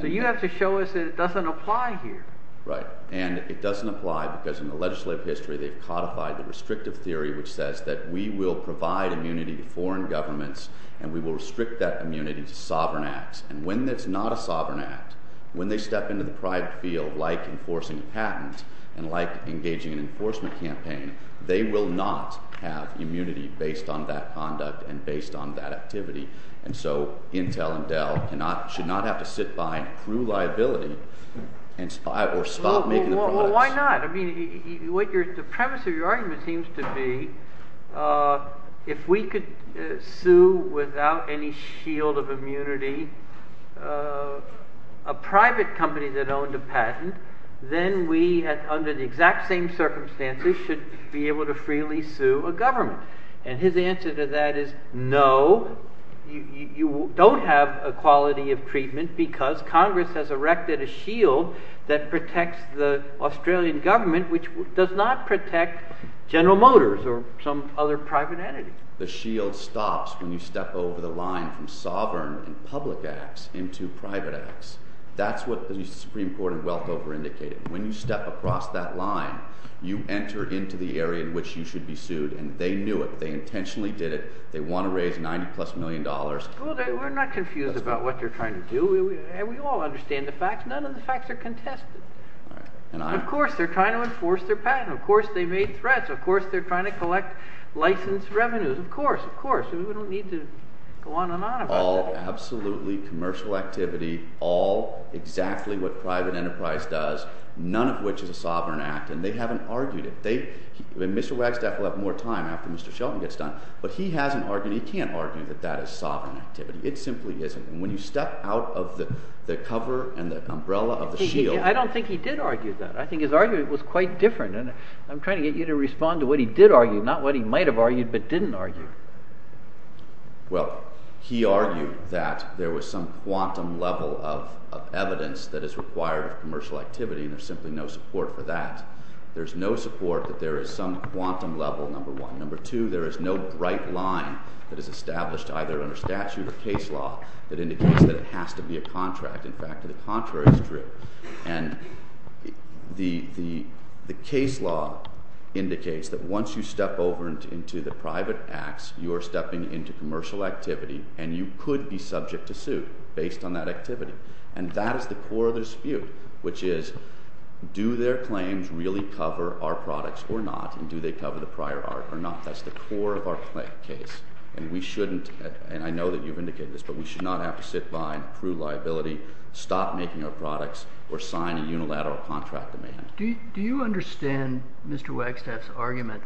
So you have to show us that it doesn't apply here. Right. And it doesn't apply because in the legislative history they've codified the restrictive theory which says that we will provide immunity to foreign governments, and we will restrict that immunity to sovereign acts. And when it's not a sovereign act, when they step into the private field like enforcing patents and like engaging in an enforcement campaign, they will not have immunity based on that conduct and based on that activity. And so Intel and Dell should not have to sit by and prove liability or stop making the proclamation. Well, why not? I mean, the premise of your argument seems to be if we could sue without any shield of immunity a private company that owns a patent, then we, under the exact same circumstances, should be able to freely sue a government. And his answer to that is no, you don't have a quality of treatment because Congress has erected a shield that protects the Australian government which does not protect General Motors or some other private entity. The shield stops when you step over the line from sovereign and public acts into private acts. That's what the Supreme Court in Wellcover indicated. When you step across that line, you enter into the area in which you should be sued, and they knew it. They intentionally did it. They want to raise 90 plus million dollars. We're not confused about what they're trying to do. We all understand the facts. None of the facts are contested. Of course, they're trying to enforce their patent. Of course, they made threats. Of course, they're trying to collect licensed revenues. Of course, of course. We don't need to go on and on about that. All absolutely commercial activities, all exactly what private enterprise does, none of which is a sovereign act, and they haven't argued it. Mr. Wagstaff will have more time after Mr. Shelton gets done, but he hasn't argued it. He can't argue that that is sovereign activity. It simply isn't. When you step out of the cover and the umbrella of the shield... I don't think he did argue that. I think his argument was quite different. I'm trying to get you to respond to what he did argue, not what he might have argued but didn't argue. Well, he argued that there was some quantum level of evidence that is required of commercial activity, and there's simply no support for that. There's no support that there is some quantum level, number one. Number two, there is no right line that is established either under statute or case law that indicates that it has to be a contract. In fact, the contrary is true. And the case law indicates that once you step over into the private acts, you are stepping into commercial activity, and you could be subject to suit based on that activity. And that is the core of the dispute, which is do their claims really cover our products or not, and do they cover the prior art or not? That's the core of our case. And we shouldn't, and I know that you've indicated this, but we should not have to sit by and prove liability, stop making our products, or sign a unilateral contract of maintenance. Do you understand Mr. Wagstaff's argument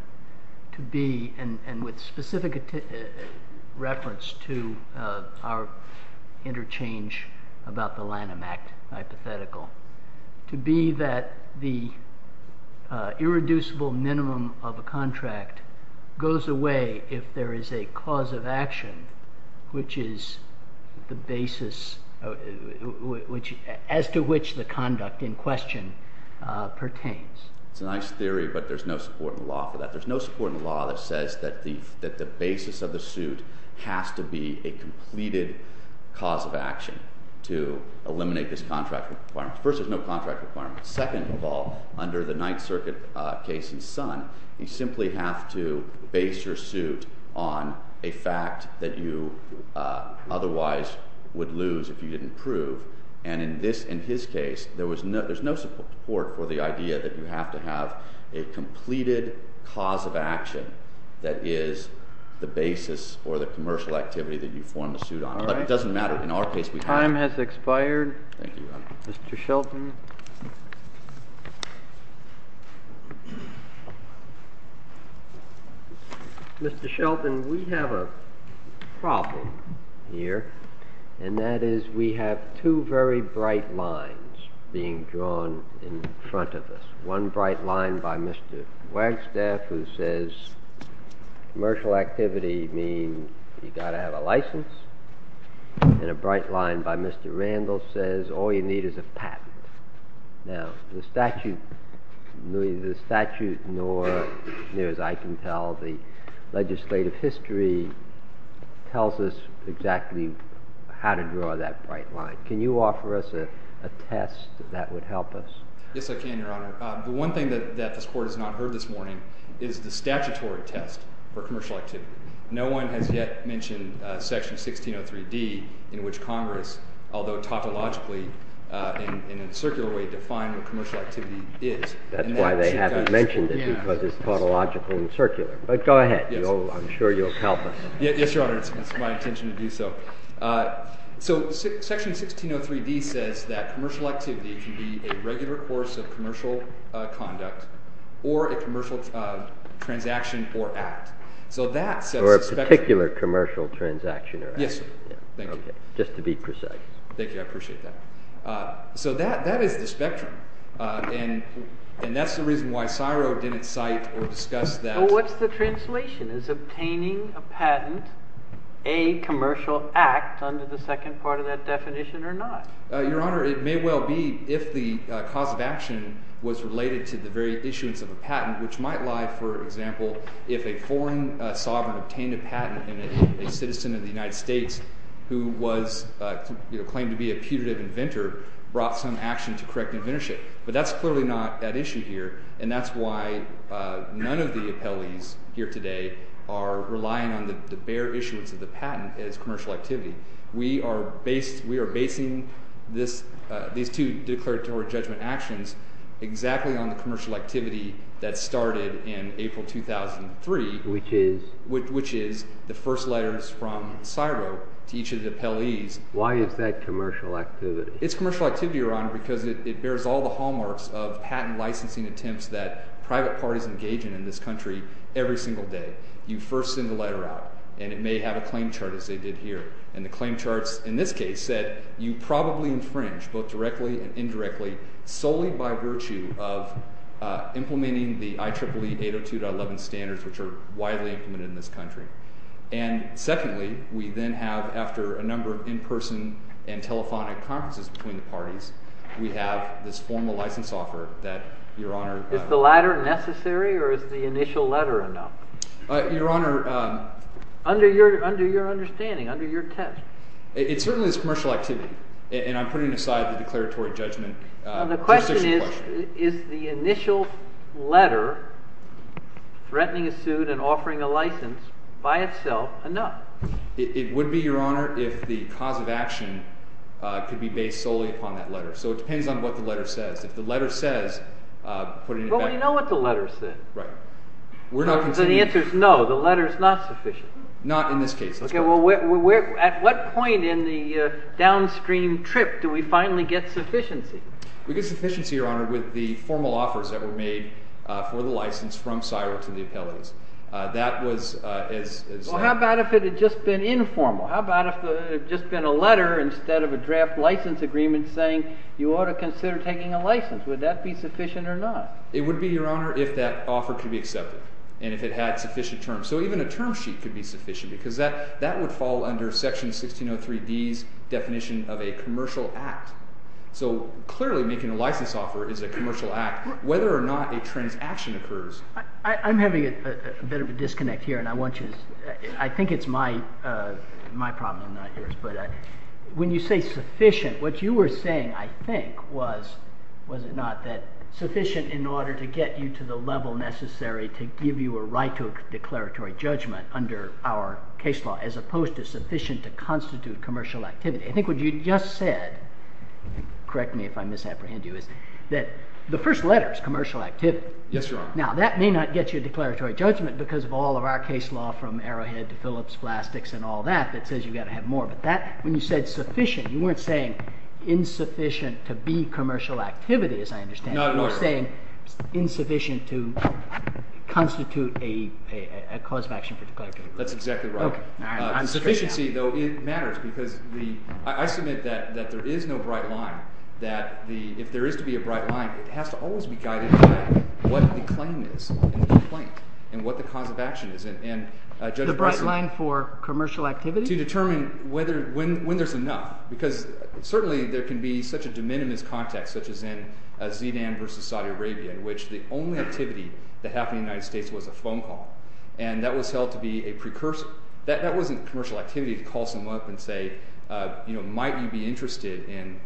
to be, and with specific reference to our interchange about the Lanham Act hypothetical, to be that the irreducible minimum of a contract goes away if there is a cause of action which is the basis as to which the conduct in question pertains? It's a nice theory, but there's no support in law for that. There's no support in law that says that the basis of a suit has to be a completed cause of action to eliminate this contract requirement. First, there's no contract requirement. Second of all, under the Ninth Circuit case in Sun, you simply have to base your suit on a fact that you otherwise would lose if you didn't prove. And in his case, there's no support for the idea that you have to have a completed cause of action that is the basis for the commercial activity that you form a suit on. But it doesn't matter. In our case, we have a- Time has expired. Thank you, Your Honor. Mr. Shelton. Mr. Shelton, we have a problem here, and that is we have two very bright lines being drawn in front of us. One bright line by Mr. Wagstaff, who says, commercial activity means you've got to have a license. And a bright line by Mr. Randall says, all you need is a patent. Now, the statute, neither the statute nor, as I can tell, the legislative history tells us exactly how to draw that bright line. Can you offer us a test that would help us? Yes, I can, Your Honor. The one thing that this Court has not heard this morning is the statutory test for commercial activity. No one has yet mentioned Section 1603D, in which Congress, although tautologically and in a circular way, defined what commercial activity is. That's why they haven't mentioned it, because it's tautological and circular. But go ahead. I'm sure you'll tell them. Yes, Your Honor. That's my intention to do so. So Section 1603D says that commercial activity should be a regular course of commercial conduct or a commercial transaction for act. Or a particular commercial transaction or act. Yes, Your Honor. Just to be precise. Thank you. I appreciate that. So that is the spectrum. And that's the reason why CSIRO didn't cite or discuss that. Well, what's the translation? Is obtaining a patent a commercial act, under the second part of that definition, or not? Your Honor, it may well be if the cause of action was related to the very issuance of a patent, which might lie, for example, if a foreign sovereign obtained a patent and a citizen of the United States who was claimed to be a putative inventor brought some action to correct an inventorship. But that's clearly not that issue here. And that's why none of the appellees here today are relying on the bare issuance of the patent as commercial activity. We are basing these two declaratory judgment actions exactly on the commercial activity that started in April 2003, which is the first letters from CSIRO to each of the appellees. Why is that commercial activity? It's commercial activity, Your Honor, because it bears all the hallmarks of patent licensing attempts that private parties engage in in this country every single day. You first send the letter out. And it may have a claim chart, as they did here. And the claim charts, in this case, said you probably infringed, both directly and indirectly, solely by virtue of implementing the IEEE 802.11 standards, which are widely implemented in this country. And secondly, we then have, after a number of in-person and telephonic conferences between the parties, we have this formal license offer that, Your Honor. Is the latter necessary, or is the initial letter enough? Your Honor, under your understanding, under your test. It certainly is commercial activity. And I'm putting aside the declaratory judgment. The question is, is the initial letter threatening a suit and offering a license by itself enough? It would be, Your Honor, if the cause of action could be based solely upon that letter. So it depends on what the letter says. If the letter says, put it in effect. But we know what the letter says. So the answer is no, the letter is not sufficient. Not in this case. At what point in the downstream trip do we finally get sufficiency? We get sufficiency, Your Honor, with the formal offers that were made for the license from CSIRO to the attendees. How about if it had just been informal? How about if it had just been a letter instead of a draft license agreement saying, you ought to consider taking a license? Would that be sufficient or not? It would be, Your Honor, if that offer could be accepted, and if it had sufficient terms. So even a term sheet could be sufficient, because that would fall under Section 1603B's definition of a commercial act. So clearly, making a license offer is a commercial act. Whether or not a transaction occurs. I'm having a bit of a disconnect here, and I want you to, I think it's my problem, not yours. But when you say sufficient, what you were saying, I think, was, was it not, that sufficient in order to get you to the level necessary to give you a right to a declaratory judgment under our case law, as opposed to sufficient to constitute commercial activity. I think what you just said, correct me if I misapprehend you, is that the first letter is commercial activity. Yes, Your Honor. Now, that may not get you a declaratory judgment, because of all of our case law from Arrowhead to Phillips, plastics, and all that, that says you've got to have more. But that, when you said sufficient, you weren't saying insufficient to be commercial activity, as I understand it. No, I wasn't. You were saying insufficient to constitute a cause of action to declaratory. That's exactly right. OK, now I understand that. And sufficiency, though, matters, because the, I submit that there is no bright line. That the, if there is to be a bright line, it has to always be guided by what the claim is, and what the claim is, and what the cause of action is. And Justice Breyton. The bright line for commercial activity? To determine whether, when there's enough. Because certainly, there can be such a de minimis context, such as in Zidane versus Saudi Arabia, in which the only activity that happened in the United States was a phone call. And that was held to be a precursor. That wasn't commercial activity to call someone up and say, might you be interested in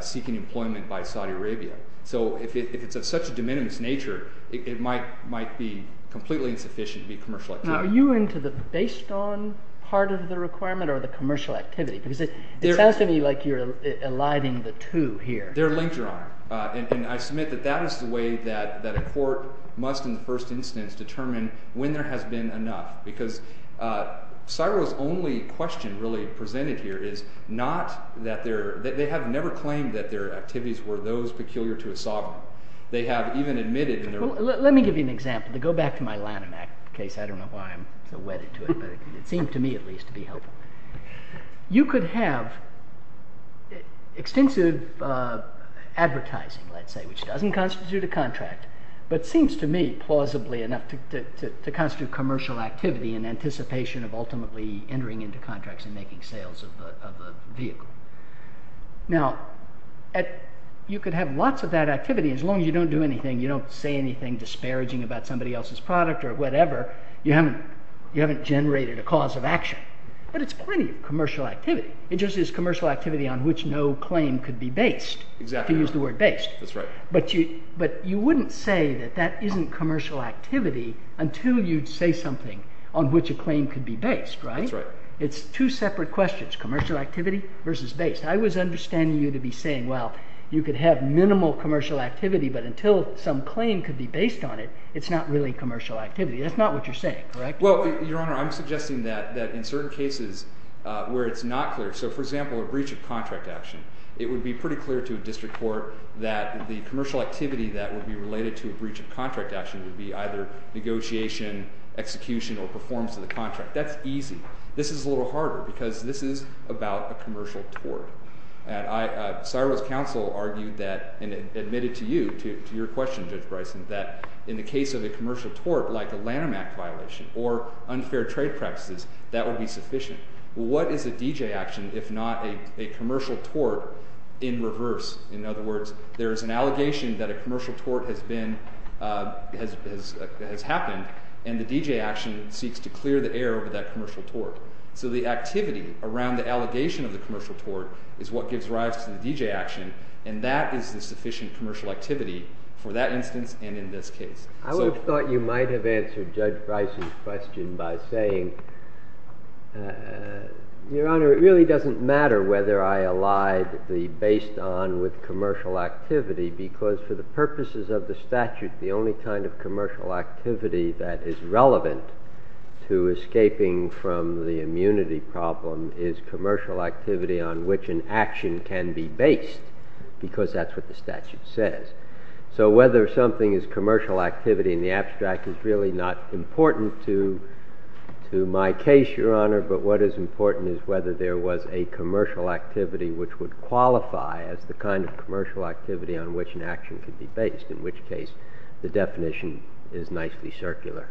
seeking employment by Saudi Arabia? So if it's of such a de minimis nature, it might be completely insufficient to be commercial activity. Now, are you into the based on part of the requirement, or the commercial activity? Because it sounds to me like you're eliding the two here. They're linked, Your Honor. And I submit that that is the way that a court must, in the first instance, determine when there has been enough. Because Searle's only question, really, presented here is not that they have never claimed that their activities were those peculiar to a sovereign. They have even admitted in their work. Let me give you an example. To go back to my Lanham Act case. I don't know why I'm so wedded to it. It seems to me, at least, to be helpful. You could have extensive advertising, let's say, which doesn't constitute a contract, but seems to me plausibly enough to constitute commercial activity in anticipation of ultimately entering into contracts and making sales of the vehicle. Now, you could have lots of that activity. As long as you don't do anything, you don't say anything disparaging about somebody else's product or whatever, you haven't generated a cause of action. But it's plenty of commercial activity. It just is commercial activity on which no claim could be based, to use the word based. But you wouldn't say that that isn't commercial activity until you say something on which a claim could be based, right? It's two separate questions, commercial activity versus based. I was understanding you to be saying, well, you could have minimal commercial activity, but until some claim could be based on it, it's not really commercial activity. That's not what you're saying, correct? Well, Your Honor, I'm suggesting that in certain cases where it's not clear, so for example, a breach of contract action, it would be pretty clear to a district court that the commercial activity that would be related to a breach of contract action would be either negotiation, execution, or performance of the contract. That's easy. This is a little harder, because this is about a commercial tort. And Cyrus Counsel argued that, and admitted to you, to your question, Judge Bryson, that in the case of a commercial tort, like a Lanham Act violation or unfair trade practices, that would be sufficient. Well, what is a DJ action if not a commercial tort in reverse? In other words, there is an allegation that a commercial tort has happened, and the DJ action seeks to clear the air over that commercial tort. So the activity around the allegation of the commercial tort is what gives rise to the DJ action, and that is the sufficient commercial activity for that instance and in this case. I would have thought you might have answered Judge Bryson's question by saying, Your Honor, it really doesn't matter whether I allied the based on with commercial activity, because for the purposes of the statute, the only kind of commercial activity that is relevant to escaping from the immunity problem is commercial activity on which an action can be based, because that's what the statute says. So whether something is commercial activity in the abstract is really not important to my case, Your Honor, but what is important is whether there was a commercial activity which would qualify as the kind of commercial activity on which an action could be based, in which case the definition is nicely circular.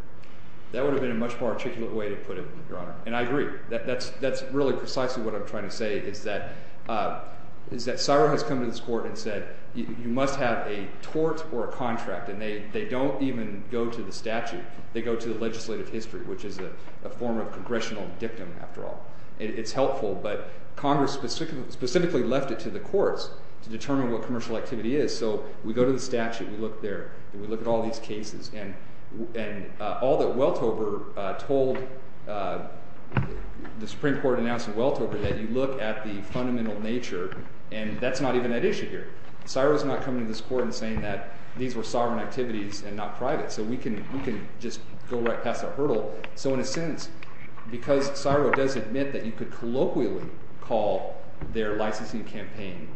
That would have been a much more articulate way to put it, Your Honor. And I agree. That's really precisely what I'm trying to say, is that Sarum has come to this Court and said, you must have a tort or a contract. And they don't even go to the statute. They go to the legislative history, which is a form of congressional dictum, after all. It's helpful, but Congress specifically left it to the courts to determine what commercial activity is. So we go to the statute. We look there. We look at all these cases. And all that Welcover told the Supreme Court in Nelson-Welcover is that you look at the fundamental nature, and that's not even an issue here. Sarum's not coming to this Court and saying that these were sovereign activities and not private. So we can just go right past that hurdle. So in a sense, because Sarum does admit that you could colloquially call their licensing campaign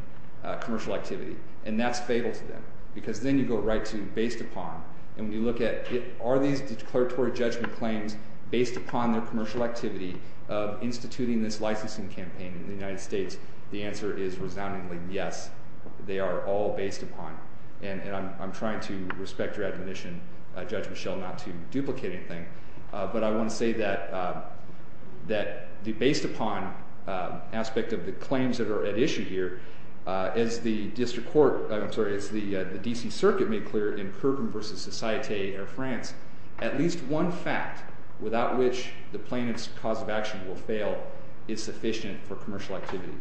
commercial activity, and that's fatal to them. Because then you go right to based upon. And we look at, are these declaratory judgment claims based upon their commercial activity of instituting this licensing campaign in the United States? The answer is resoundingly yes. They are all based upon. And I'm trying to respect your admonition, Judge Michelle, not to duplicate anything. But I want to say that the based upon aspect of the claims that are at issue here, as the district court, I'm sorry, as the DC Circuit made clear in Kerbin versus Societe Air France, at least one fact without which the plaintiff's cause of action will fail is sufficient for commercial activity.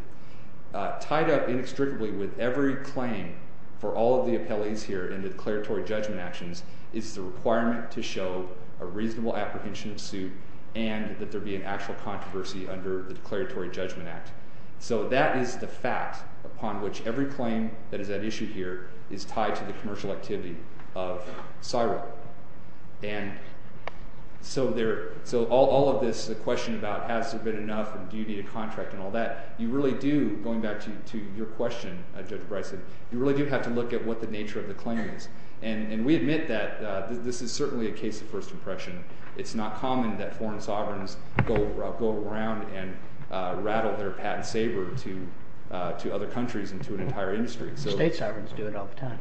Tied up inextricably with every claim for all of the appellees here in the declaratory judgment actions is the requirement to show a reasonable apprehension of suit and that there be an actual controversy under the Declaratory Judgment Act. So that is the fact upon which every claim that is at issue here is tied to the commercial activity of CSIRO. And so all of this, the question about has there been enough, and do you need a contract, and all that, you really do, going back to your question, Judge Bryson, you really do have to look at what the nature of the claim is. And we admit that this is certainly a case of first impression. It's not common that foreign sovereigns go around and rattle their patent sabre to other countries and to an entire industry. State sovereigns do it all the time.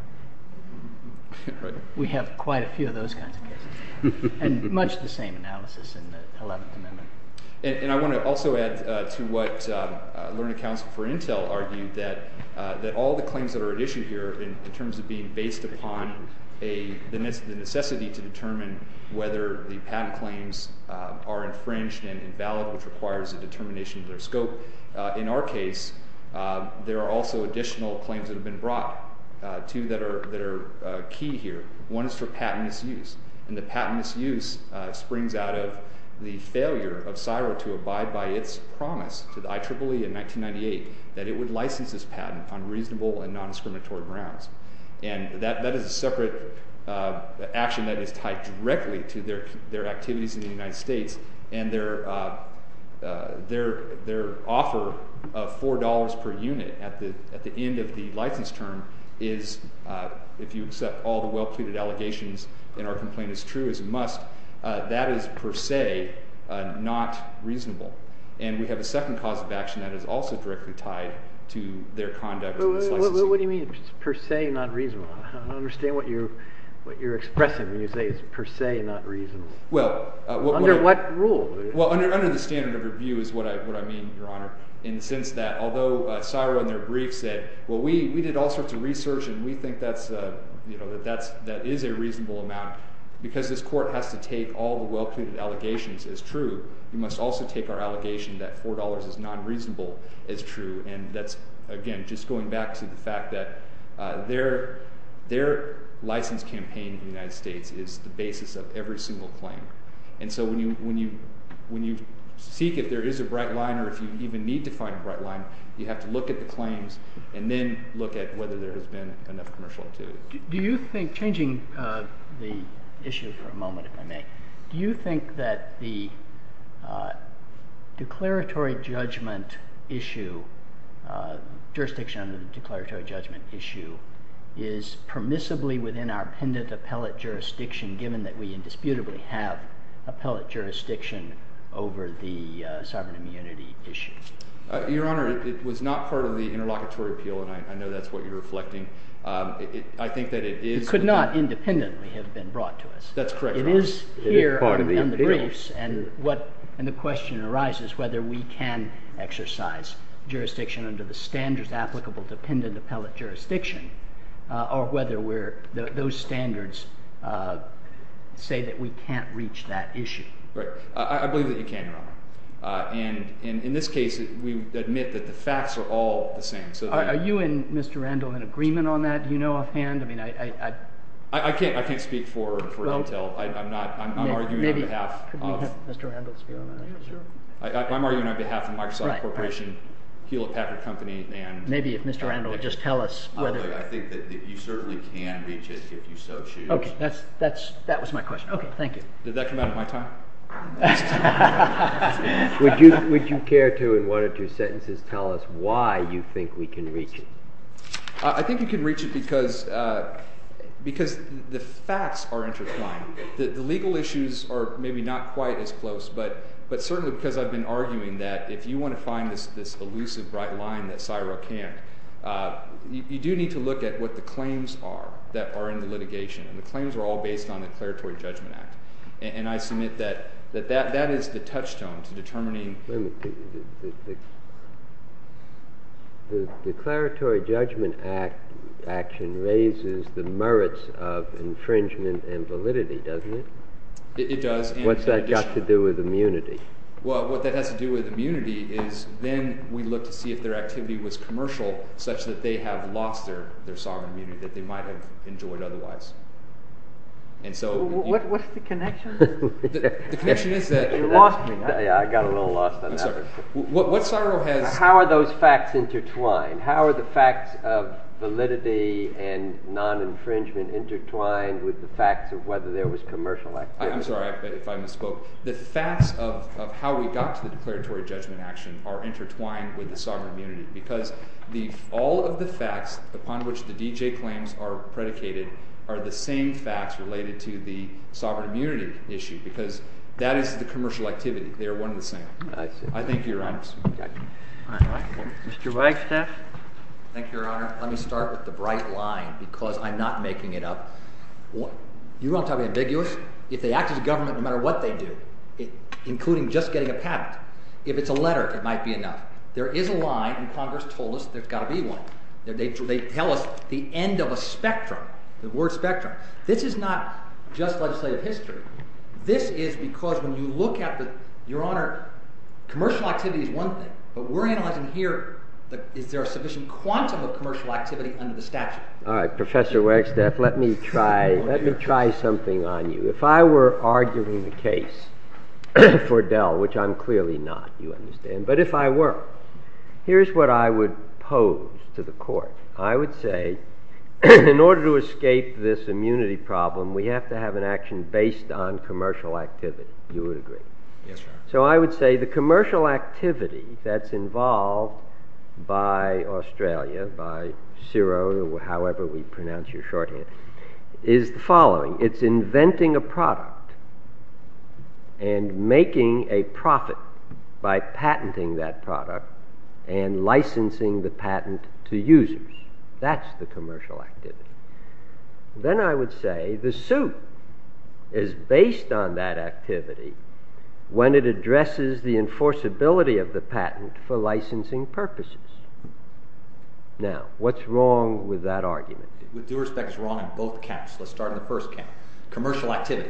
We have quite a few of those kinds of cases. And much the same analysis in the 11th Amendment. And I want to also add to what Learned Counsel for Intel argued that all the claims that are at issue here in terms of being based upon the necessity to determine whether the patent claims are infringed and invalid, which requires a determination of the scope, in our case, there are also additional claims that have been brought to you that are key here. One is for patent misuse. And the patent misuse springs out of the failure of CSIRO to abide by its promise to the IEEE in 1998 that it would license this patent on reasonable and non-exterminatory grounds. And that is a separate action that is tied directly to their activities in the United States. And their offer of $4 per unit at the end of the license term is, if you accept all the well-pleaded allegations in our complaint as true, is a must. That is per se not reasonable. And we have a second cause of action that is also directly tied to their conduct in the United States. What do you mean, per se not reasonable? I don't understand what you're expressing when you say it's per se not reasonable. Under what rules? Well, under the standard of review is what I mean, Your Honor, in the sense that although CSIRO, in their brief, said, well, we did all sorts of research and we think that is a reasonable amount. Because this court has to take all the well-pleaded allegations as true, we must also take our allegation that $4 is non-reasonable as true. And that's, again, just going back to the fact that their license campaign in the United States is the basis of every single claim. And so when you seek, if there is a bright line or if you even need to find a bright line, you have to look at the claims and then look at whether there has been another commercial or two. Do you think, changing the issue for a moment, if I may, do you think that the declaratory judgment issue, jurisdiction under the declaratory judgment issue, is permissibly within our appellate jurisdiction, given that we indisputably have appellate jurisdiction over the sovereign immunity issue? Your Honor, it was not part of the interlocutory appeal, and I know that's what you're reflecting. I think that it is. It could not independently have been brought to us. That's correct, Your Honor. It is here in the briefs. It is part of the appeal. And the question arises whether we can exercise jurisdiction under the standards applicable to pendant appellate jurisdiction, or whether those standards say that we can't reach that issue. Right. I believe that you can, Your Honor. And in this case, we admit that the facts are all the same. Are you and Mr. Randall in agreement on that? Do you know offhand? I mean, I can't speak for Elk Hill. I'm not. I'm arguing on behalf of. Could you let Mr. Randall speak on that? Yeah, sure. I'm arguing on behalf of Microsoft Corporation, Hewlett Packard companies, and. Maybe if Mr. Randall would just tell us whether. I think that you certainly can reach it if you so choose. OK. That was my question. OK, thank you. Did that come out of my time? Would you care to, in one of your sentences, tell us why you think we can reach it? I think you can reach it because the facts are intertwined. The legal issues are maybe not quite as close. But certainly because I've been arguing that if you want to find this elusive right line that CSIRA can't, you do need to look at what the claims are that are in the litigation. And the claims are all based on the Declaratory Judgment Act. And I submit that that is the touchstone to determining. The Declaratory Judgment Act action raises the merits of infringement and validity, doesn't it? It does. What's that got to do with immunity? Well, what that has to do with immunity is then we look to see if their activity was commercial, such that they have lost their sovereign immunity, that they might have endured otherwise. What's the connection? The connection is that it lost me. Yeah, I got a little lost on that one. How are those facts intertwined? How are the facts of validity and non-infringement intertwined with the fact of whether there was commercial activity? I'm sorry. I misspoke. The facts of how we got to the Declaratory Judgment Act are intertwined with the sovereign immunity issue, because all of the facts upon which the DJ claims are predicated are the same facts related to the sovereign immunity issue. Because that is the commercial activity. They are one and the same. I see. I think you're right. Mr. Weinstein? Thank you, Your Honor. Let me start with the bright line, because I'm not making it up. You want to talk about ambiguity? If they act as a government, no matter what they do, including just getting a patent, if it's a letter, it might be enough. There is a line, and Congress told us there's got to be one. They tell us the end of a spectrum, the word spectrum. This is not just legislative history. This is because when you look at the, Your Honor, commercial activity is one thing. But we're analyzing here if there are sufficient quants of commercial activity under the statute. All right, Professor Weinstein, let me try something on you. If I were arguing the case for Dell, which I'm clearly not, you understand, but if I were, here's what I would pose to the court. I would say, in order to escape this immunity problem, we have to have an action based on commercial activity. Do you agree? Yes, sir. So I would say the commercial activity that's involved by Australia, by CERO, however we pronounce your shorthand, is the following. It's inventing a product and making a profit by patenting that product and licensing the patent to users. That's the commercial activity. Then I would say the suit is based on that activity when it addresses the enforceability of the patent for licensing purposes. Now, what's wrong with that argument? With due respect, it's wrong on both counts. Let's start on the first count. Commercial activity.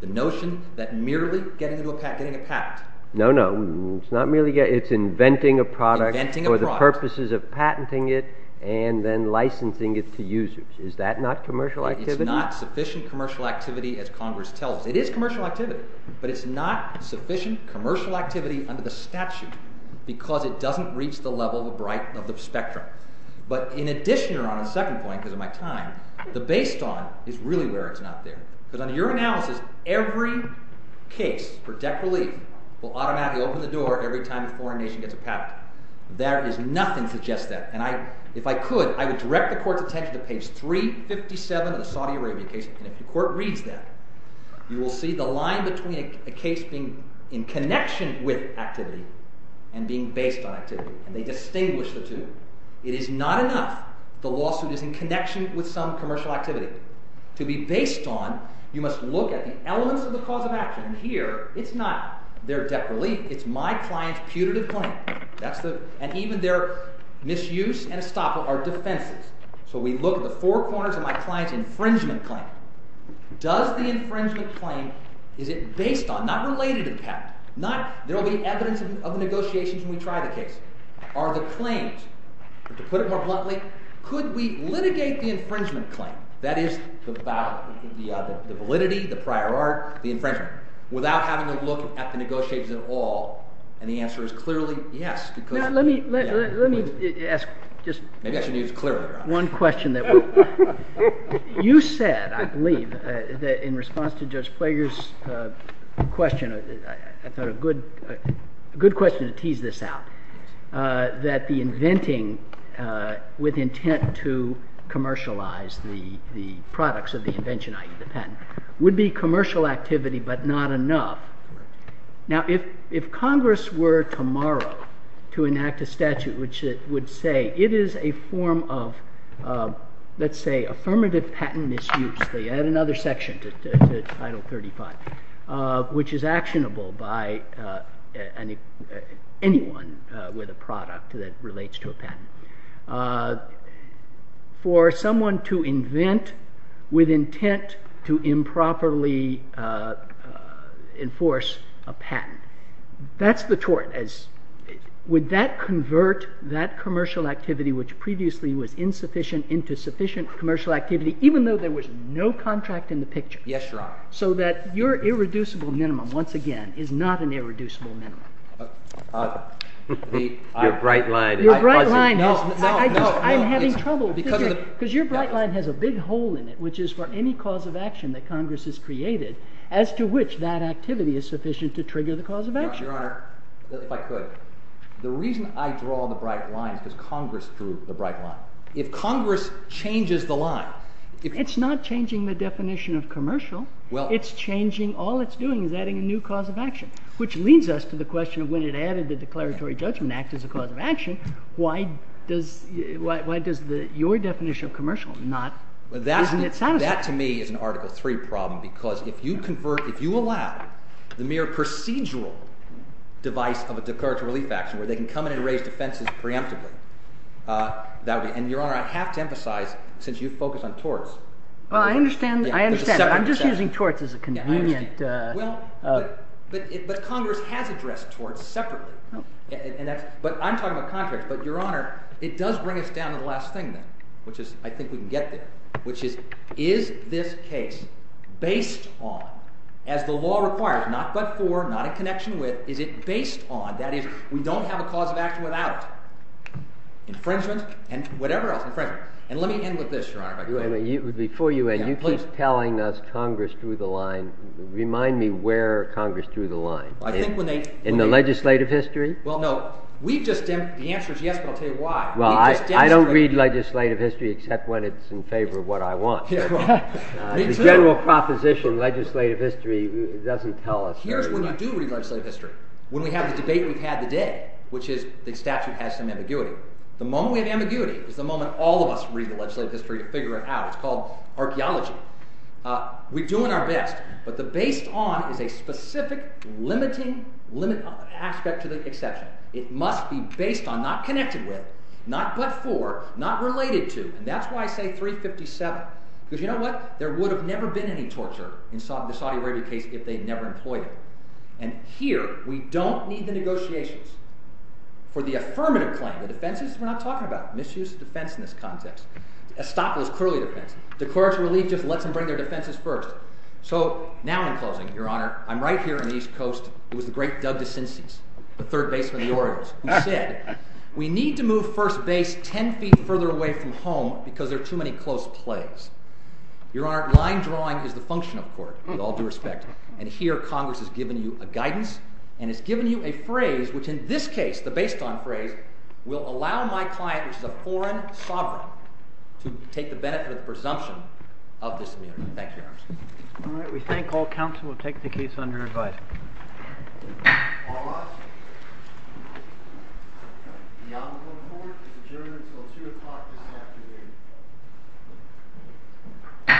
The notion that merely getting a patent. No, no. It's not merely getting a patent. It's inventing a product for the purposes of patenting it and then licensing it to users. Is that not commercial activity? It's not sufficient commercial activity, as Congress tells us. It is commercial activity, but it's not sufficient commercial activity under the statute because it doesn't reach the level of right of the spectrum. But in addition, on the second point, because of my time, the based on is really where it's not there. Because under your analysis, every case projectilely will automatically open the door every time the coronation gets a patent. There is nothing to just that. And if I could, I would direct the court's attention to page 357 of the Saudi Arabia case. And if the court reads that, you will see the line between a case being in connection with activity and being based on activity. And they distinguish the two. It is not enough the lawsuit is in connection with some commercial activity. To be based on, you must look at the elements of the cause of action here. It's not their debt relief. It's my client's punitive claim. And even their misuse and estoppel are defensive. So we look at the four corners of my client's infringement claim. Does the infringement claim, is it based on, not related to tax, not there will be evidence of negotiations when we try the case. Are the claims, to put it more bluntly, could we litigate the infringement claim, that is, the validity, the prior art, the infringement, without having to look at the negotiations at all? And the answer is clearly yes. Now, let me ask just one question. You said, I believe, that in response to Judge Plager's question, a good question to tease this out, that the inventing with intent to commercialize the products of the invention, i.e., the patent, would be commercial activity, but not enough. Now, if Congress were tomorrow to enact a statute which it would say, it is a form of, let's say, affirmative patent misuse. Add another section to Title 35, which is actionable by anyone with a product that relates to a patent. For someone to invent with intent to improperly enforce a patent, that's the tort. Would that convert that commercial activity, which previously was insufficient, into sufficient commercial activity, even though there was no contract in the picture? Yes, Your Honor. So that your irreducible minimum, once again, is not an irreducible minimum. The bright line. Your bright line. No, no, no. I'm having trouble. Because your bright line has a big hole in it, which is for any cause of action that Congress has created, as to which that activity is sufficient to trigger the cause of action. Your Honor, if I could, the reason I draw the bright line is Congress drew the bright line. If Congress changes the line. It's not changing the definition of commercial. It's changing, all it's doing is adding a new cause of action. Which leads us to the question, when it added the Declaratory Judgment Act as a cause of action, why does your definition of commercial not isn't it satisfactory? That, to me, is an Article III problem. Because if you allow the mere procedural device of a declaratory relief action, where they can come in and raise defenses preemptively. And your Honor, I have to emphasize, since you focus on torts. Well, I understand. I understand. I'm just using torts as a convenient. Well, but Congress has addressed torts separately. But I'm talking about contracts. But your Honor, it does bring us down to the last thing, which is, I think we can get there. Which is, is this case based on, as the law requires, not but for, not in connection with, is it based on, that is, we don't have a cause of action without infringement and whatever else. And let me end with this, Your Honor. Before you end, you keep telling us Congress threw the line. Remind me where Congress threw the line. In the legislative history? Well, no. We've just been, the answer is yes, but I'll tell you why. Well, I don't read legislative history except when it's in favor of what I want. The general proposition in legislative history doesn't tell us very much. Here's when you do read legislative history, when we have the debate we've had today, which is the statute has some ambiguity. The moment we have ambiguity is the moment all of us read the legislative history and figure it out. It's called archaeology. We're doing our best. But the based on is a specific, limiting aspect to the exception. It must be based on, not connected with, not but for, not related to. And that's why I say 357. Because you know what, there would have never been any torture in the Saudi Arabia case if they'd never employed it. And here, we don't need the negotiations for the affirmative point. The defenses we're not talking about. Misuse of defense in this context. Stop those cruel defenses. Declare us religious and let them bring their defenses first. So now I'm closing, Your Honor. I'm right here on the East Coast. It was a great dub to Sinti's, the third base of the Orioles. He said, we need to move first base 10 feet further away from home because there are too many close plays. Your Honor, line drawing is the function of court with all due respect. And here, Congress has given you a guidance. And it's given you a phrase, which in this case, the based on phrase, will allow my client, which is a foreign sovereign, to take the benefit of the presumption of this meeting. Thank you, Your Honor. All right. We thank all counsel. We'll take the case under review. All rise. The honorable court is adjourned until 2 o'clock in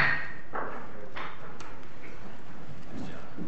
the afternoon.